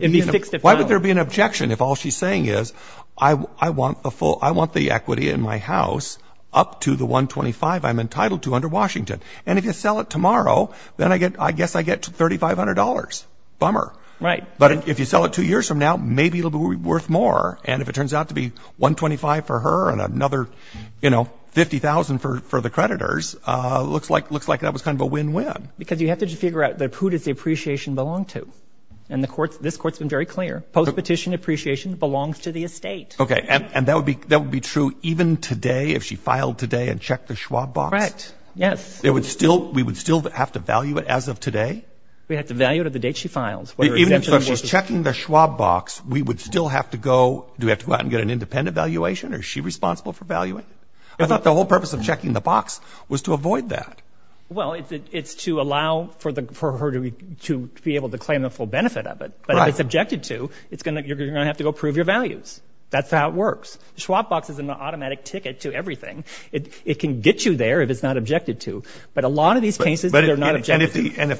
be an objection if all she's saying is, I want the equity in my house up to the 125 I'm entitled to under Washington? And if you sell it tomorrow, then I guess I get $3,500. Bummer. Right. But if you sell it two years from now, maybe it'll be worth more. And if it turns out to be 125 for her and another 50,000 for the creditors, looks like that was kind of a win-win. Because you have to figure out who does the appreciation belong to. And this court's been very clear. Post-petition appreciation belongs to the estate. OK. And that would be true even today, if she filed today and checked the Schwab box? Right. Yes. We would still have to value it as of today? We'd have to value it at the date she files. Even if she's checking the Schwab box, we would still have to go out and get an independent valuation? Or is she responsible for valuing? I thought the whole purpose of checking the box was to avoid that. Well, it's to allow for her to be able to claim the full benefit of it. But if it's objected to, you're going to have to go prove your values. That's how it works. The Schwab box is an automatic ticket to everything. It can get you there if it's not objected to. But a lot of these cases, they're not objected to. And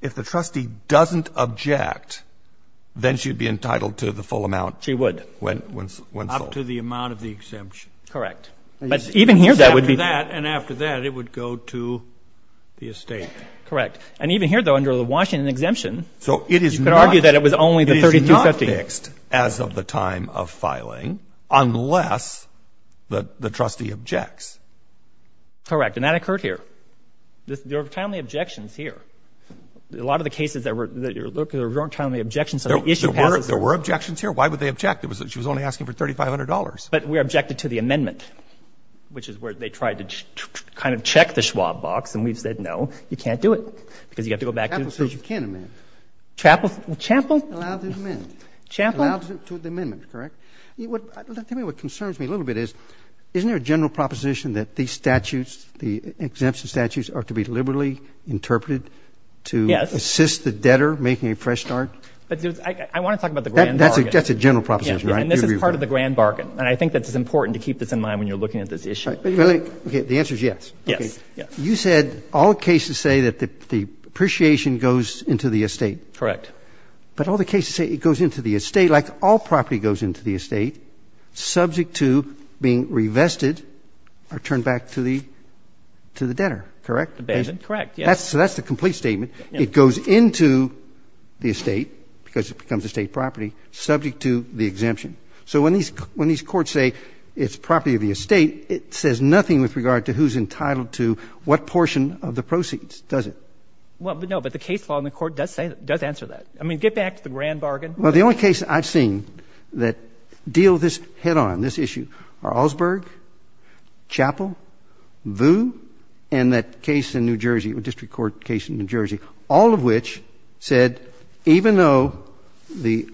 if the trustee doesn't object, then she'd be entitled to the full amount? She would. When sold? Up to the amount of the exemption. Correct. But even here, that would be. After that, and after that, it would go to the estate. Correct. And even here, though, under the Washington exemption. So it is not. You could argue that it was only the $3,250. It is not fixed as of the time of filing, unless the trustee objects. Correct. And that occurred here. There were timely objections here. A lot of the cases that you're looking at, there were timely objections until the issue passes. There were objections here. Why would they object? She was only asking for $3,500. But we objected to the amendment, which is where they tried to kind of check the Schwab box. And we've said, no, you can't do it. Because you have to go back to the. Chappell says you can't amend. Chappell? Allowed to amend. Chappell? Allowed to amend, correct? Tell me what concerns me a little bit is, isn't there a general proposition that these statutes, the exemption statutes, are to be liberally interpreted to assist the debtor making a fresh start? I want to talk about the grand bargain. That's a general proposition, right? And this is part of the grand bargain. And I think that it's important to keep this in mind when you're looking at this issue. The answer is yes. You said all cases say that the appreciation goes into the estate. Correct. But all the cases say it goes into the estate, like all property goes into the estate, subject to being revested or turned back to the debtor, correct? Correct, yes. So that's the complete statement. It goes into the estate, because it becomes estate property, subject to the exemption. So when these courts say it's property of the estate, it says nothing with regard to who's entitled to what portion of the proceeds, does it? Well, no, but the case law in the court does answer that. I mean, get back to the grand bargain. Well, the only cases I've seen that deal this head on, this issue, are Augsburg, Chappell, Vue, and that case in New Jersey, the district court case in New Jersey, all of which said, even though the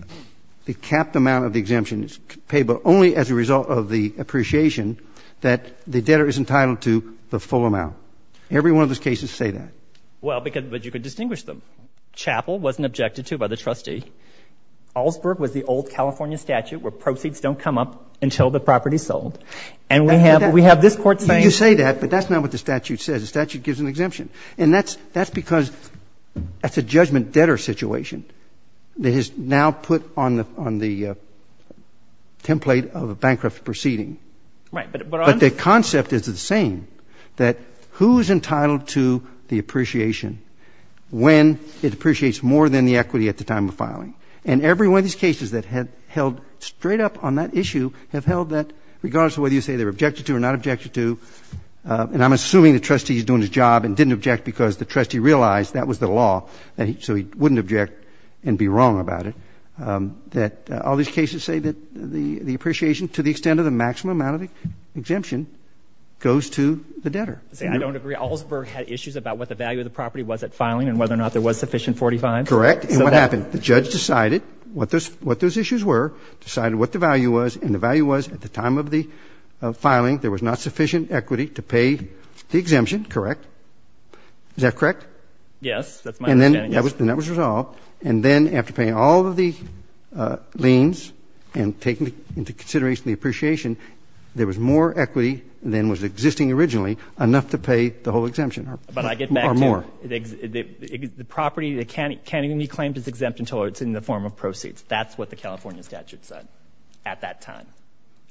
capped amount of the exemption is paid only as a result of the appreciation, that the debtor is entitled to the full amount. Every one of those cases say that. Well, but you could distinguish them. Chappell wasn't objected to by the trustee. Augsburg was the old California statute where proceeds don't come up until the property's sold. And we have this court saying that. You say that, but that's not what the statute says. The statute gives an exemption. And that's because that's a judgment debtor situation that is now put on the template of a bankrupt proceeding. But the concept is the same, that who's entitled to the appreciation when it appreciates more than the equity at the time of filing. And every one of these cases that had held straight up on that issue have held that, regardless of whether you say they were objected to or not objected to. And I'm assuming the trustee's doing his job and didn't object because the trustee realized that was the law. So he wouldn't object and be wrong about it. That all these cases say that the appreciation to the extent of the maximum amount of exemption goes to the debtor. See, I don't agree. Augsburg had issues about what the value of the property was at filing and whether or not there was sufficient 45. Correct. And what happened? The judge decided what those issues were, decided what the value was. And the value was at the time of the filing there was not sufficient equity to pay the exemption, correct? Is that correct? Yes. That's my understanding. And then that was resolved. And then after paying all of the liens and taking into consideration the appreciation, there was more equity than was existing originally enough to pay the whole exemption or more. The property that can't even be claimed is exempt until it's in the form of proceeds. That's what the California statute said at that time.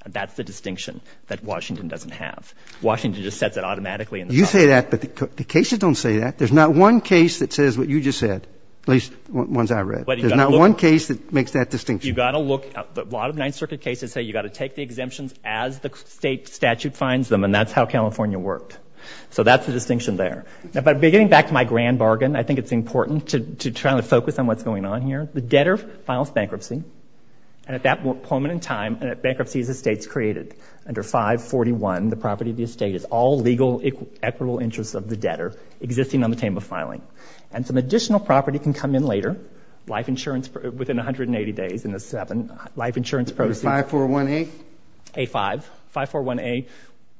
That's the distinction that Washington doesn't have. Washington just sets it automatically. You say that, but the cases don't say that. There's not one case that says what you just said, at least ones I read. There's not one case that makes that distinction. You've got to look. A lot of Ninth Circuit cases say you've got to take the exemptions as the state statute finds them, and that's how California worked. So that's the distinction there. Now, getting back to my grand bargain, I think it's important to try to focus on what's going on here. The debtor files bankruptcy. And at that moment in time, a bankruptcy is the state's created. Under 541, the property of the estate is all legal equitable interests of the debtor existing on the table of filing. And some additional property can come in later. Life insurance within 180 days in the seven. Life insurance proceeds. 541A? A5. 541A1.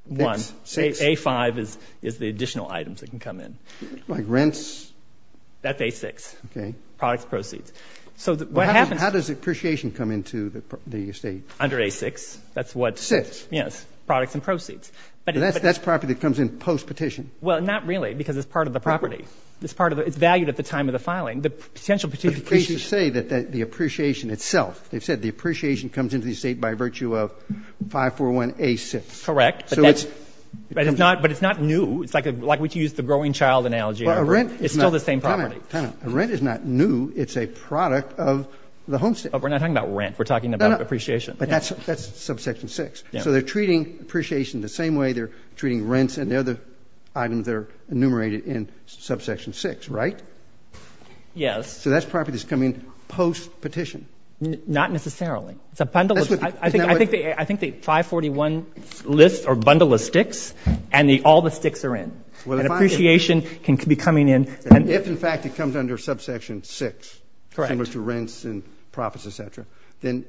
A5 is the additional items that can come in. Like rents? That's A6. Products, proceeds. So what happens? How does the appreciation come into the estate? Under A6. That's what. 6? Yes. Products and proceeds. But that's property that comes in post-petition. Well, not really, because it's part of the property. It's valued at the time of the filing. Potential petition. But the cases say that the appreciation itself, they've said the appreciation comes into the estate by virtue of 541A6. Correct. But it's not new. It's like we used the growing child analogy. It's still the same property. Rent is not new. It's a product of the homestead. We're not talking about rent. We're talking about appreciation. But that's subsection 6. So they're treating appreciation the same way they're treating rents and the other items that are enumerated in subsection 6, right? Yes. So that's property that's coming in post-petition. Not necessarily. It's a bundle of, I think the 541 list or bundle of sticks, and all the sticks are in. An appreciation can be coming in. If, in fact, it comes under subsection 6, similar to rents and profits, et cetera, then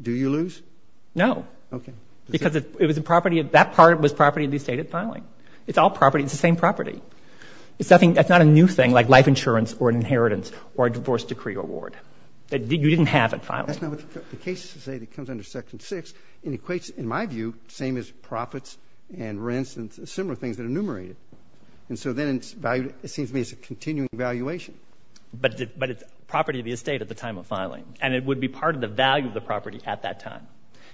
do you lose? No. OK. Because that part was property of the estate at filing. It's all property. It's the same property. That's not a new thing, like life insurance or an inheritance or a divorce decree award that you didn't have at filing. That's not what the cases say that comes under section 6. It equates, in my view, same as profits and rents and similar things that are enumerated. And so then it seems to me it's a continuing valuation. But it's property of the estate at the time of filing. And it would be part of the value of the property at that time.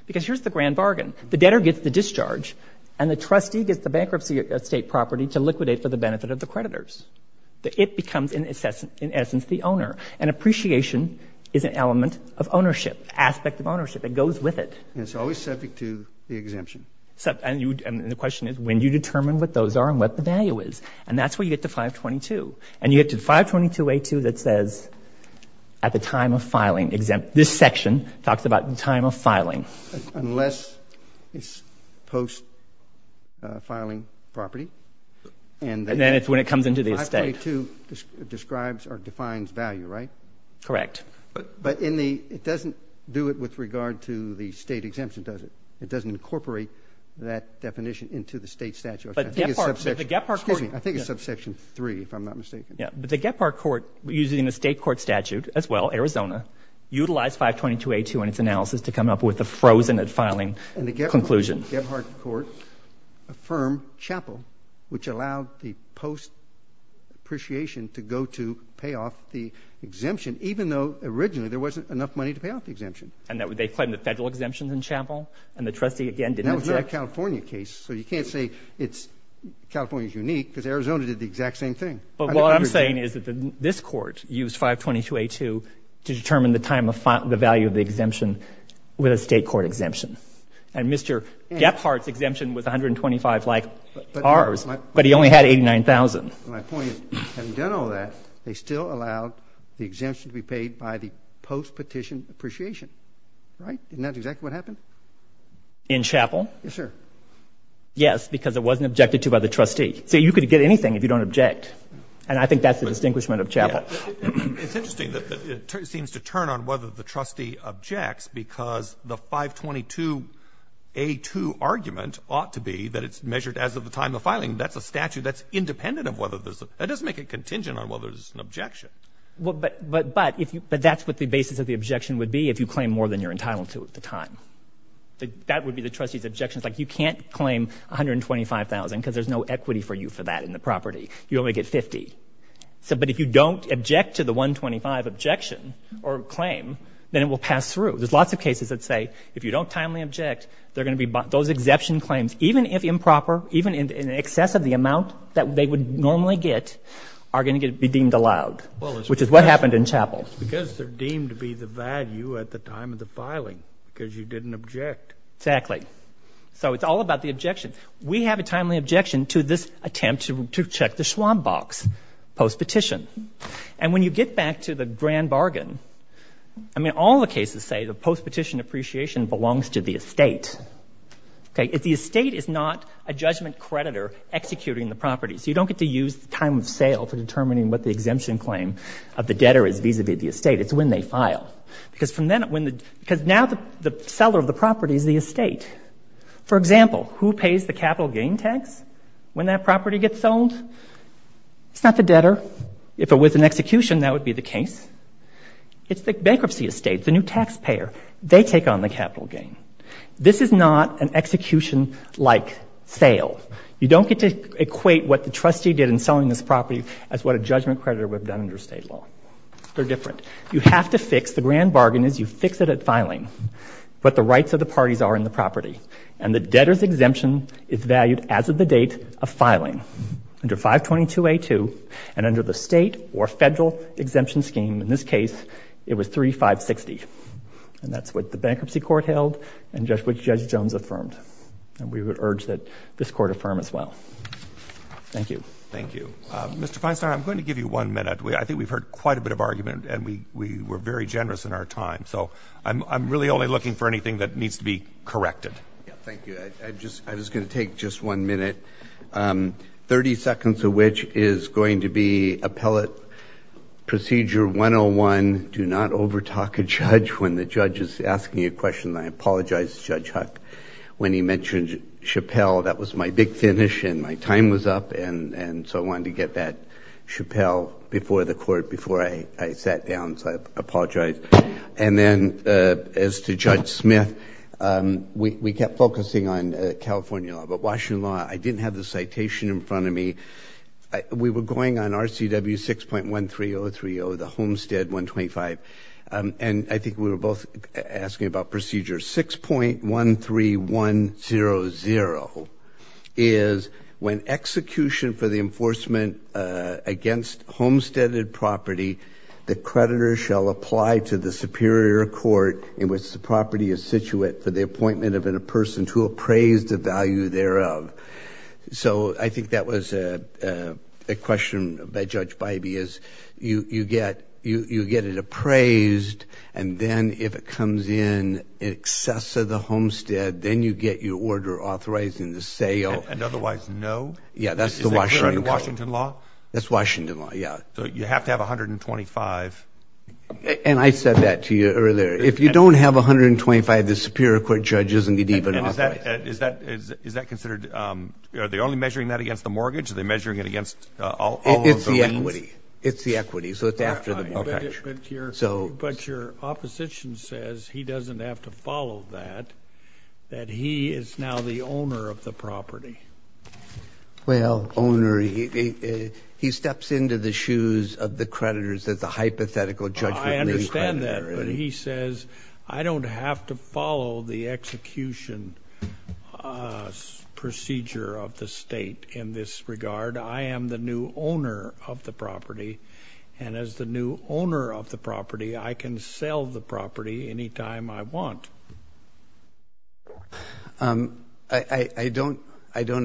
Because here's the grand bargain. The debtor gets the discharge, and the trustee gets the bankruptcy estate property to liquidate for the benefit of the creditors. It becomes, in essence, the owner. And appreciation is an element of ownership, aspect of ownership. It goes with it. And it's always subject to the exemption. And the question is, when do you determine what those are and what the value is? And that's where you get to 522. And you get to 522A2 that says, at the time of filing. This section talks about the time of filing. Unless it's post-filing property. And then it's when it comes into the estate. 522 describes or defines value, right? Correct. But it doesn't do it with regard to the state exemption, does it? It doesn't incorporate that definition into the state statute. I think it's subsection 3, if I'm not mistaken. But the Gephardt Court, using the state court statute as well, Arizona, utilized 522A2 in its analysis to come up with a frozen at filing conclusion. And the Gephardt Court affirmed Chappell, which allowed the post-appreciation to go to pay off the exemption, even though, originally, there wasn't enough money to pay off the exemption. And they claimed the federal exemption in Chappell. And the trustee, again, didn't object. And that was not a California case. So you can't say California's unique, because Arizona did the exact same thing. But what I'm saying is that this court used 522A2 to determine the time of the value of the exemption with a state court exemption. And Mr. Gephardt's exemption was $125,000, like ours. But he only had $89,000. My point is, having done all that, they still allowed the exemption to be paid by the post-petition appreciation, right? Isn't that exactly what happened? In Chappell? Yes, sir. Yes, because it wasn't objected to by the trustee. So you could get anything if you don't object. And I think that's the distinguishment of Chappell. It's interesting that it seems to turn on whether the trustee objects, because the 522A2 argument ought to be that it's measured as of the time of filing. That's a statute that's independent of whether there's a, that doesn't make it contingent on whether there's an objection. But that's what the basis of the objection would be if you claim more than you're entitled to at the time. That would be the trustee's objections. Like, you can't claim $125,000, because there's no equity for you for that in the property. You only get $50. But if you don't object to the $125 objection or claim, then it will pass through. There's lots of cases that say, if you don't timely object, they're going to be, those exemption claims, even if improper, even in excess of the amount that they would normally get, are going to be deemed allowed, which is what happened in Chappell. Because they're deemed to be the value at the time of the filing, because you didn't object. Exactly. So it's all about the objection. We have a timely objection to this attempt to check the Schwab box post-petition. And when you get back to the grand bargain, all the cases say the post-petition appreciation belongs to the estate. The estate is not a judgment creditor executing the property. So you don't get to use time of sale for determining what the exemption claim of the debtor is vis-a-vis the estate. It's when they file. Because now the seller of the property is the estate. For example, who pays the capital gain tax when that property gets sold? It's not the debtor. If it was an execution, that would be the case. It's the bankruptcy estate, the new taxpayer. They take on the capital gain. This is not an execution-like sale. You don't get to equate what the trustee did in selling this property as what a judgment creditor would have done under state law. They're different. You have to fix, the grand bargain is you fix it at filing, what the rights of the parties are in the property. And the debtor's exemption is valued as of the date of filing, under 522A2, and under the state or federal exemption scheme. In this case, it was 3560. And that's what the bankruptcy court held and just what Judge Jones affirmed. And we would urge that this court affirm as well. Thank you. Thank you. Mr. Feinstein, I'm going to give you one minute. I think we've heard quite a bit of argument, and we were very generous in our time. So I'm really only looking for anything that needs to be corrected. Thank you. I was going to take just one minute, 30 seconds of which is going to be appellate procedure 101, do not overtalk a judge when the judge is asking you a question. I apologize to Judge Huck. When he mentioned Chappelle, that was my big finish, and my time was up, and so I wanted to get that Chappelle before the court, before I sat down. So I apologize. And then, as to Judge Smith, we kept focusing on California law. But Washington law, I didn't have the citation in front of me. We were going on RCW 6.13030, the homestead 125. And I think we were both asking about procedures. 6.13100 is when execution for the enforcement against homesteaded property, the creditor shall apply to the superior court in which the property is situate for the appointment of a person to appraise the value thereof. So I think that was a question by Judge Bybee, is you get it appraised, and then if it comes in in excess of the homestead, then you get your order authorized in the sale. And otherwise, no? Yeah, that's the Washington law. Is that clearly Washington law? That's Washington law, yeah. So you have to have 125. And I said that to you earlier. If you don't have 125, the superior court judge isn't going to even authorize it. Is that considered, are they only measuring that against the mortgage? Are they measuring it against all of the liens? It's the equity. It's the equity. So it's after the, OK. have to follow that, that he is now the owner of the property. Well, owner, he steps into the shoes of the creditors as a hypothetical judgmental creditor. I understand that. But he says, I don't have to follow the execution procedure of the state in this regard. I am the new owner of the property. And as the new owner of the property, I can sell the property any time I want. I don't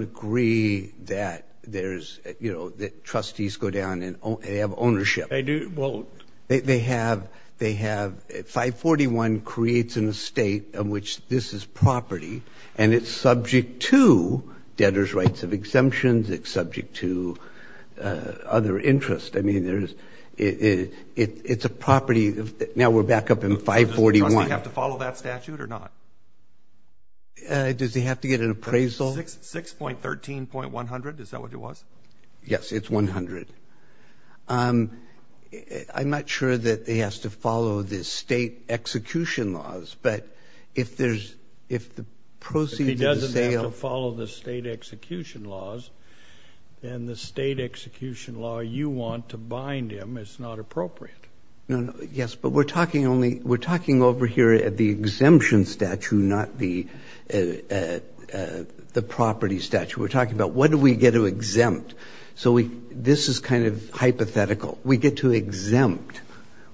agree that there's, you know, that trustees go down and they have ownership. They do? Well, they have, 541 creates an estate of which this is property. And it's subject to debtor's rights of exemptions. It's subject to other interests. I mean, it's a property. Now we're back up in 541. Does the trustee have to follow that statute? Or not? Does he have to get an appraisal? 6.13.100. Is that what it was? Yes, it's 100. I'm not sure that he has to follow the state execution laws. But if there's, if the proceeds of the sale. If he doesn't have to follow the state execution laws, then the state execution law you want to bind him is not appropriate. Yes, but we're talking only, we're not the property statute. We're talking about what do we get to exempt? So this is kind of hypothetical. We get to exempt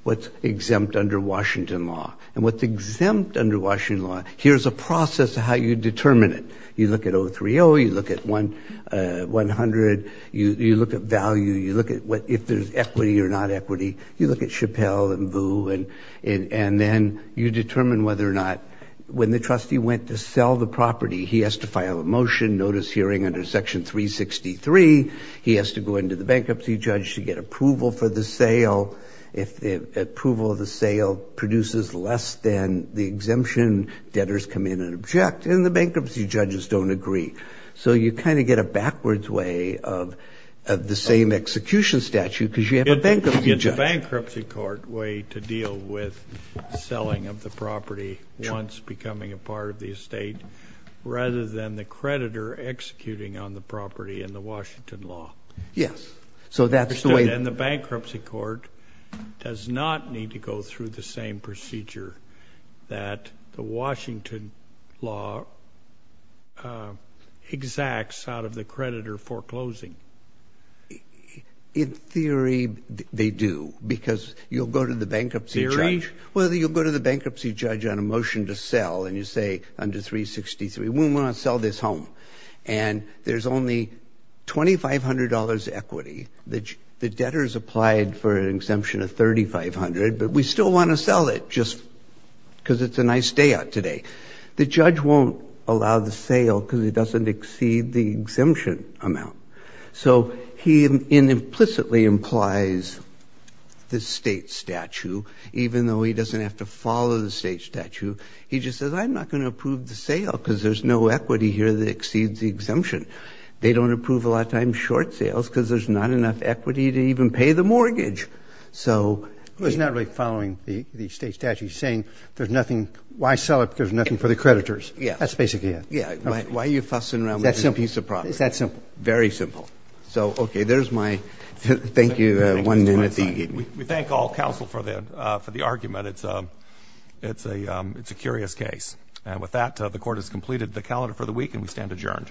what's exempt under Washington law. And what's exempt under Washington law, here's a process of how you determine it. You look at 030, you look at 100, you look at value, you look at what if there's equity or not equity, you look at Chappelle and Vu, and then you determine whether or not when the trustee went to sell the property, he has to file a motion notice hearing under section 363. He has to go into the bankruptcy judge to get approval for the sale. If the approval of the sale produces less than the exemption, debtors come in and object. And the bankruptcy judges don't agree. So you kind of get a backwards way of the same execution statute because you have a bankruptcy judge. A bankruptcy court way to deal with selling of the property once becoming a part of the estate rather than the creditor executing on the property in the Washington law. Yes. So that's the way. And the bankruptcy court does not need to go through the same procedure that the Washington law exacts out of the creditor foreclosing. In theory, they do because you'll go to the bankruptcy judge. Well, you'll go to the bankruptcy judge on a motion to sell, and you say under 363, we want to sell this home. And there's only $2,500 equity. The debtors applied for an exemption of $3,500. But we still want to sell it just because it's a nice day out today. The judge won't allow the sale because it doesn't exceed the exemption amount. So he implicitly implies the state statute, even though he doesn't have to follow the state statute. He just says, I'm not going to approve the sale because there's no equity here that exceeds the exemption. They don't approve a lot of times short sales because there's not enough equity to even pay the mortgage. So he's not really following the state statute. He's saying, why sell it because there's nothing for the creditors. That's basically it. Yeah, why are you fussing around with this piece of property? It's that simple. Very simple. So OK, there's my thank you, one minute. We thank all counsel for the argument. It's a curious case. And with that, the court has completed the calendar for the week, and we stand adjourned.